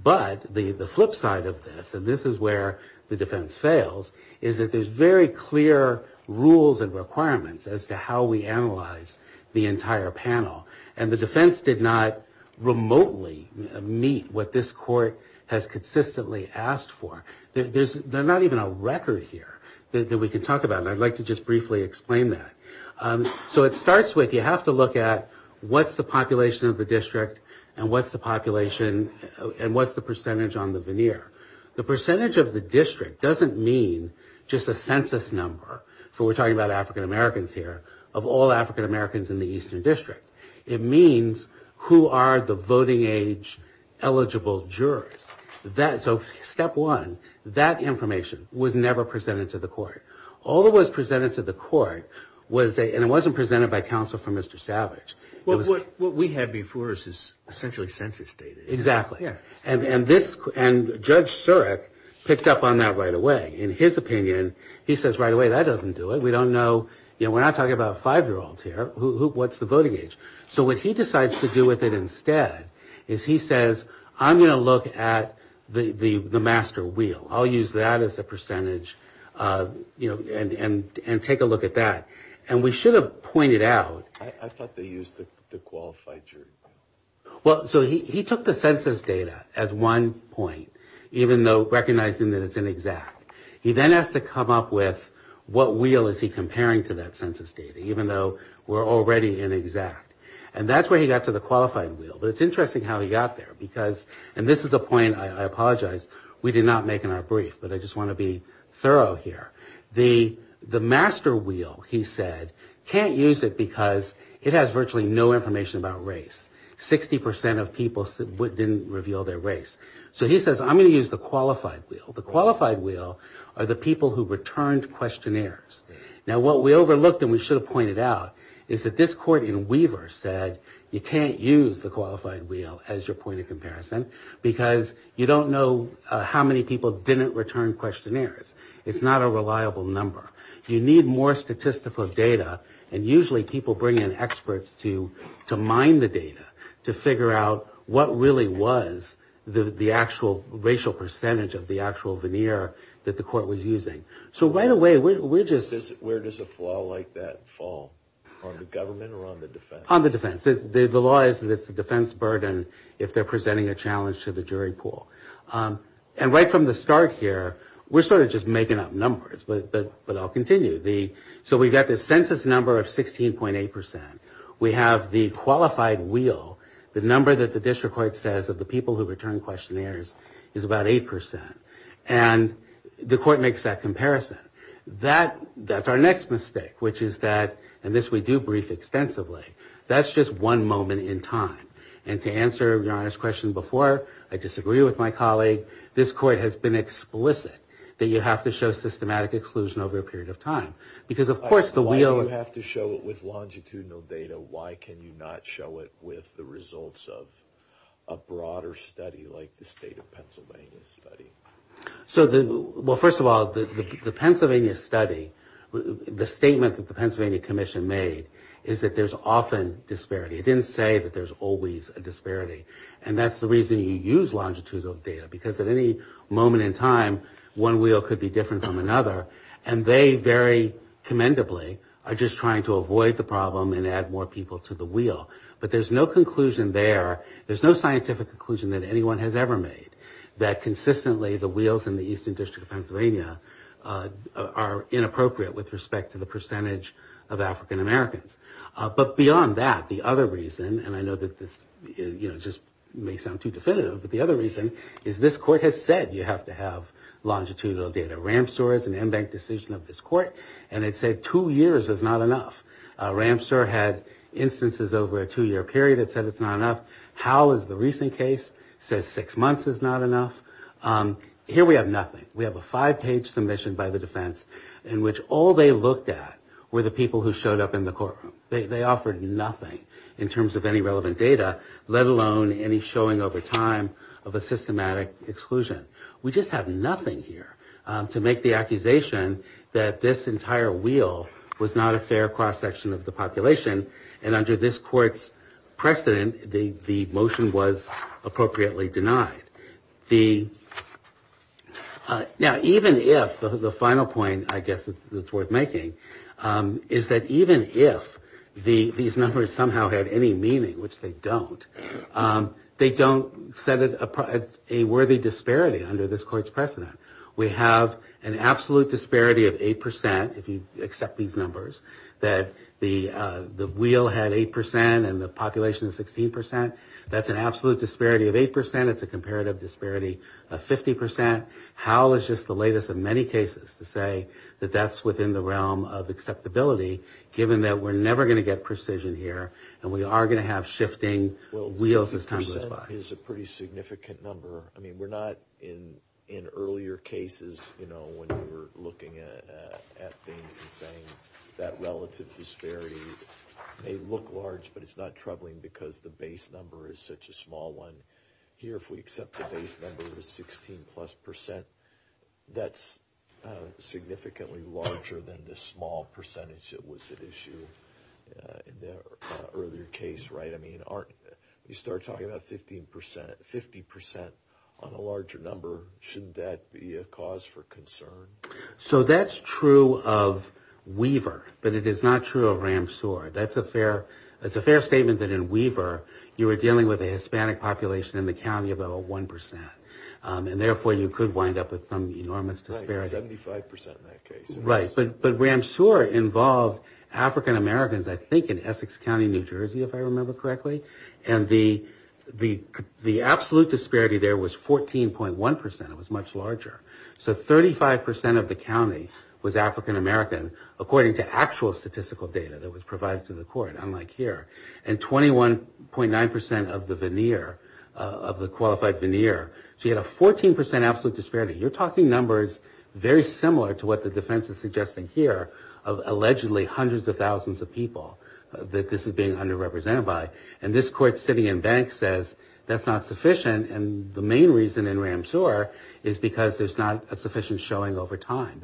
But the flip side of this, and this is where the defense fails, is that there's very clear rules and requirements as to how we analyze the entire panel. And the defense did not remotely meet what this court has consistently asked for. There's not even a record here that we can talk about, and I'd like to just briefly explain that. So it starts with you have to look at what's the population of the district and what's the percentage on the veneer. The percentage of the district doesn't mean just a census number, so we're talking about African Americans here, of all African Americans in the Eastern District. It means who are the voting age eligible jurors. So step one, that information was never presented to the court. All that was presented to the court, and it wasn't presented by counsel from Mr. Savage. Well, what we had before us is essentially census data. Exactly. And Judge Surek picked up on that right away. In his opinion, he says, right away, that doesn't do it. We don't know. We're not talking about five-year-olds here. What's the voting age? So what he decides to do with it instead is he says, I'm going to look at the master wheel. I'll use that as a percentage and take a look at that. And we should have pointed out. I thought they used the qualified jury. Well, so he took the census data as one point, even though recognizing that it's inexact. He then has to come up with what wheel is he comparing to that census data, even though we're already inexact. And that's where he got to the qualified wheel. But it's interesting how he got there because, and this is a point I apologize, we did not make in our brief, but I just want to be thorough here. The master wheel, he said, can't use it because it has virtually no information about race. Sixty percent of people didn't reveal their race. So he says, I'm going to use the qualified wheel. The qualified wheel are the people who returned questionnaires. Now, what we overlooked and we should have pointed out is that this court in Weaver said, you can't use the qualified wheel as your point of comparison because you don't know how many people didn't return questionnaires. It's not a reliable number. You need more statistical data, and usually people bring in experts to mine the data to figure out what really was the actual racial percentage of the actual veneer that the court was using. So right away, we're just... On the government or on the defense? On the defense. The law is that it's a defense burden if they're presenting a challenge to the jury pool. And right from the start here, we're sort of just making up numbers, but I'll continue. So we've got this census number of 16.8%. We have the qualified wheel, the number that the district court says of the people who returned questionnaires is about 8%. And the court makes that comparison. That's our next mistake, which is that, and this we do brief extensively, that's just one moment in time. And to answer your honest question before, I disagree with my colleague. This court has been explicit that you have to show systematic exclusion over a period of time because of course the wheel... Why do you have to show it with longitudinal data? Why can you not show it with the results of a broader study like the state of Pennsylvania study? Well, first of all, the Pennsylvania study, the statement that the Pennsylvania Commission made is that there's often disparity. It didn't say that there's always a disparity. And that's the reason you use longitudinal data because at any moment in time, one wheel could be different from another. And they very commendably are just trying to avoid the problem and add more people to the wheel. But there's no conclusion there. There's no scientific conclusion that anyone has ever made that consistently the wheels in the Eastern District of Pennsylvania are inappropriate with respect to the percentage of African Americans. But beyond that, the other reason, and I know that this just may sound too definitive, but the other reason is this court has said you have to have longitudinal data. Ramsour is an embanked decision of this court, and it said two years is not enough. Ramsour had instances over a two-year period that said it's not enough. Howell is the recent case, says six months is not enough. Here we have nothing. We have a five-page submission by the defense in which all they looked at were the people who showed up in the courtroom. They offered nothing in terms of any relevant data, let alone any showing over time of a systematic exclusion. We just have nothing here to make the accusation that this entire wheel was not a fair cross-section of the population. And under this court's precedent, the motion was appropriately denied. Now even if, the final point I guess that's worth making, is that even if these numbers somehow have any meaning, which they don't, they don't set a worthy disparity under this court's precedent. We have an absolute disparity of 8%, if you accept these numbers, that the wheel had 8% and the population 16%. That's an absolute disparity of 8%. It's a comparative disparity of 50%. Howell is just the latest of many cases to say that that's within the realm of acceptability, given that we're never going to get precision here, and we are going to have shifting wheels as time goes by. Well, percent is a pretty significant number. I mean, we're not in earlier cases, you know, when we were looking at things and saying that relative disparity may look large, but it's not troubling because the base number is such a small one. Here, if we accept the base number as 16-plus percent, that's significantly larger than the small percentage that was at issue in the earlier case, right? I mean, you start talking about 50% on a larger number, should that be a cause for concern? So that's true of Weaver, but it is not true of Ramsour. That's a fair statement that in Weaver, you were dealing with a Hispanic population in the county of about 1%, and therefore you could wind up with some enormous disparity. Right, 75% in that case. Right, but Ramsour involved African Americans, I think, in Essex County, New Jersey, if I remember correctly, and the absolute disparity there was 14.1%. It was much larger. So 35% of the county was African American, according to actual statistical data that was provided to the court, unlike here, and 21.9% of the veneer, of the qualified veneer. So you had a 14% absolute disparity. You're talking numbers very similar to what the defense is suggesting here of allegedly hundreds of thousands of people that this is being underrepresented by, and this court sitting in bank says that's not sufficient, and the main reason in Ramsour is because there's not a sufficient showing over time.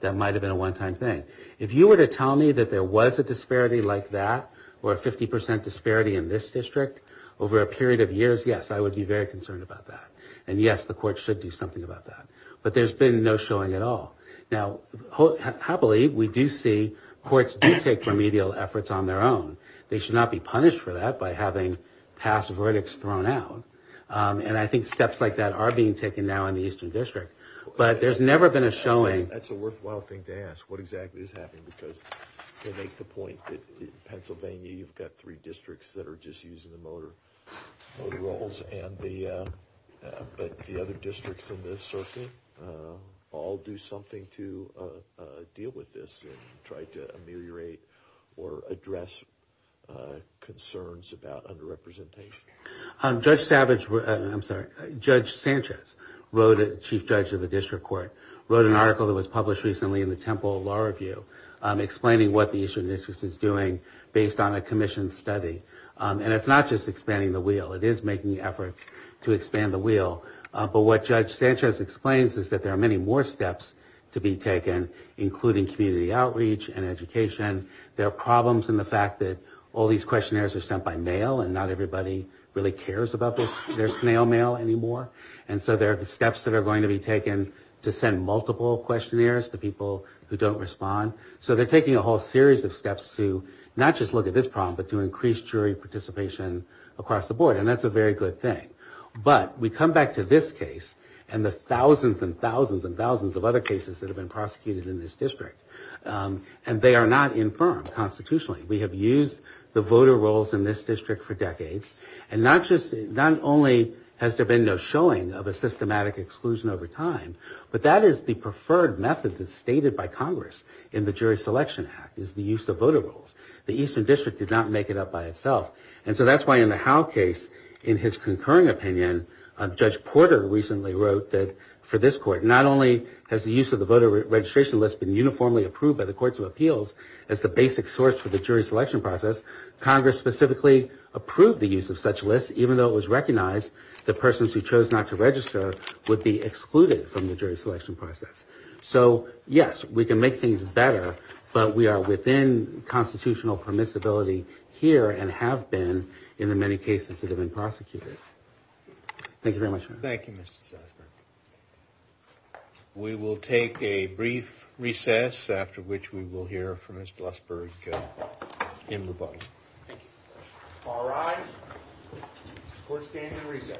That might have been a one-time thing. If you were to tell me that there was a disparity like that, or a 50% disparity in this district over a period of years, yes, I would be very concerned about that. And, yes, the court should do something about that. But there's been no showing at all. Now, happily, we do see courts do take remedial efforts on their own. They should not be punished for that by having past verdicts thrown out. And I think steps like that are being taken now in the eastern district. But there's never been a showing. That's a worthwhile thing to ask, what exactly is happening, because it makes the point that Pennsylvania, you've got three districts that are just using the motor roles, but the other districts in this circuit all do something to deal with this and try to ameliorate or address concerns about underrepresentation. Judge Sanchez, chief judge of the district court, wrote an article that was published recently in the Temple Law Review explaining what the eastern district is doing based on a commission study. And it's not just expanding the wheel. It is making efforts to expand the wheel. But what Judge Sanchez explains is that there are many more steps to be taken, including community outreach and education. There are problems in the fact that all these questionnaires are sent by mail and not everybody really cares about their snail mail anymore. And so there are steps that are going to be taken to send multiple questionnaires to people who don't respond. So they're taking a whole series of steps to not just look at this problem, but to increase jury participation across the board. And that's a very good thing. But we come back to this case and the thousands and thousands and thousands of other cases that have been prosecuted in this district. And they are not infirmed constitutionally. We have used the voter rolls in this district for decades. And not only has there been no showing of a systematic exclusion over time, but that is the preferred method that's stated by Congress in the Jury Selection Act, is the use of voter rolls. The eastern district did not make it up by itself. And so that's why in the Howe case, in his concurrent opinion, Judge Porter recently wrote that for this court, not only has the use of the voter registration list been uniformly approved by the Courts of Appeals as the basic source for the jury selection process, Congress specifically approved the use of such lists, even though it was recognized that persons who chose not to register would be excluded from the jury selection process. So, yes, we can make things better, but we are within constitutional permissibility here and have been in the many cases that have been prosecuted. Thank you very much. Thank you, Mr. Chaffin. We will take a brief recess, after which we will hear from Ms. Blasberg in the budget. All right. Court stands in recess.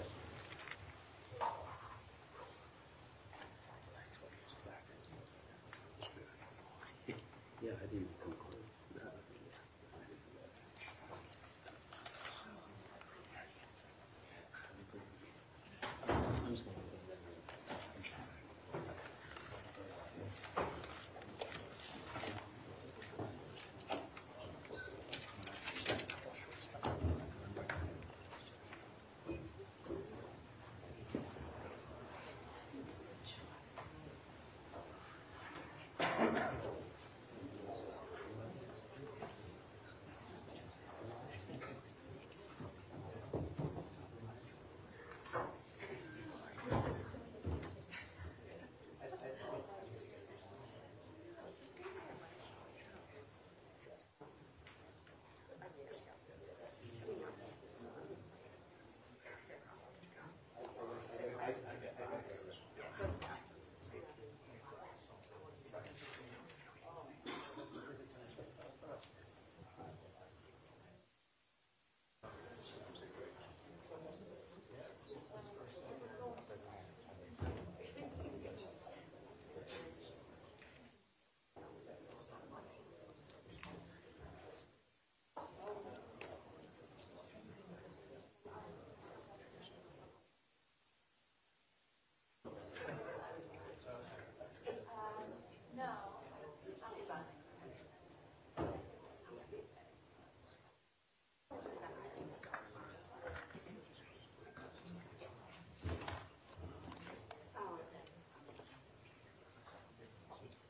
Thank you. Thank you. Thank you. Thank you. Thank you. Thank you. Thank you.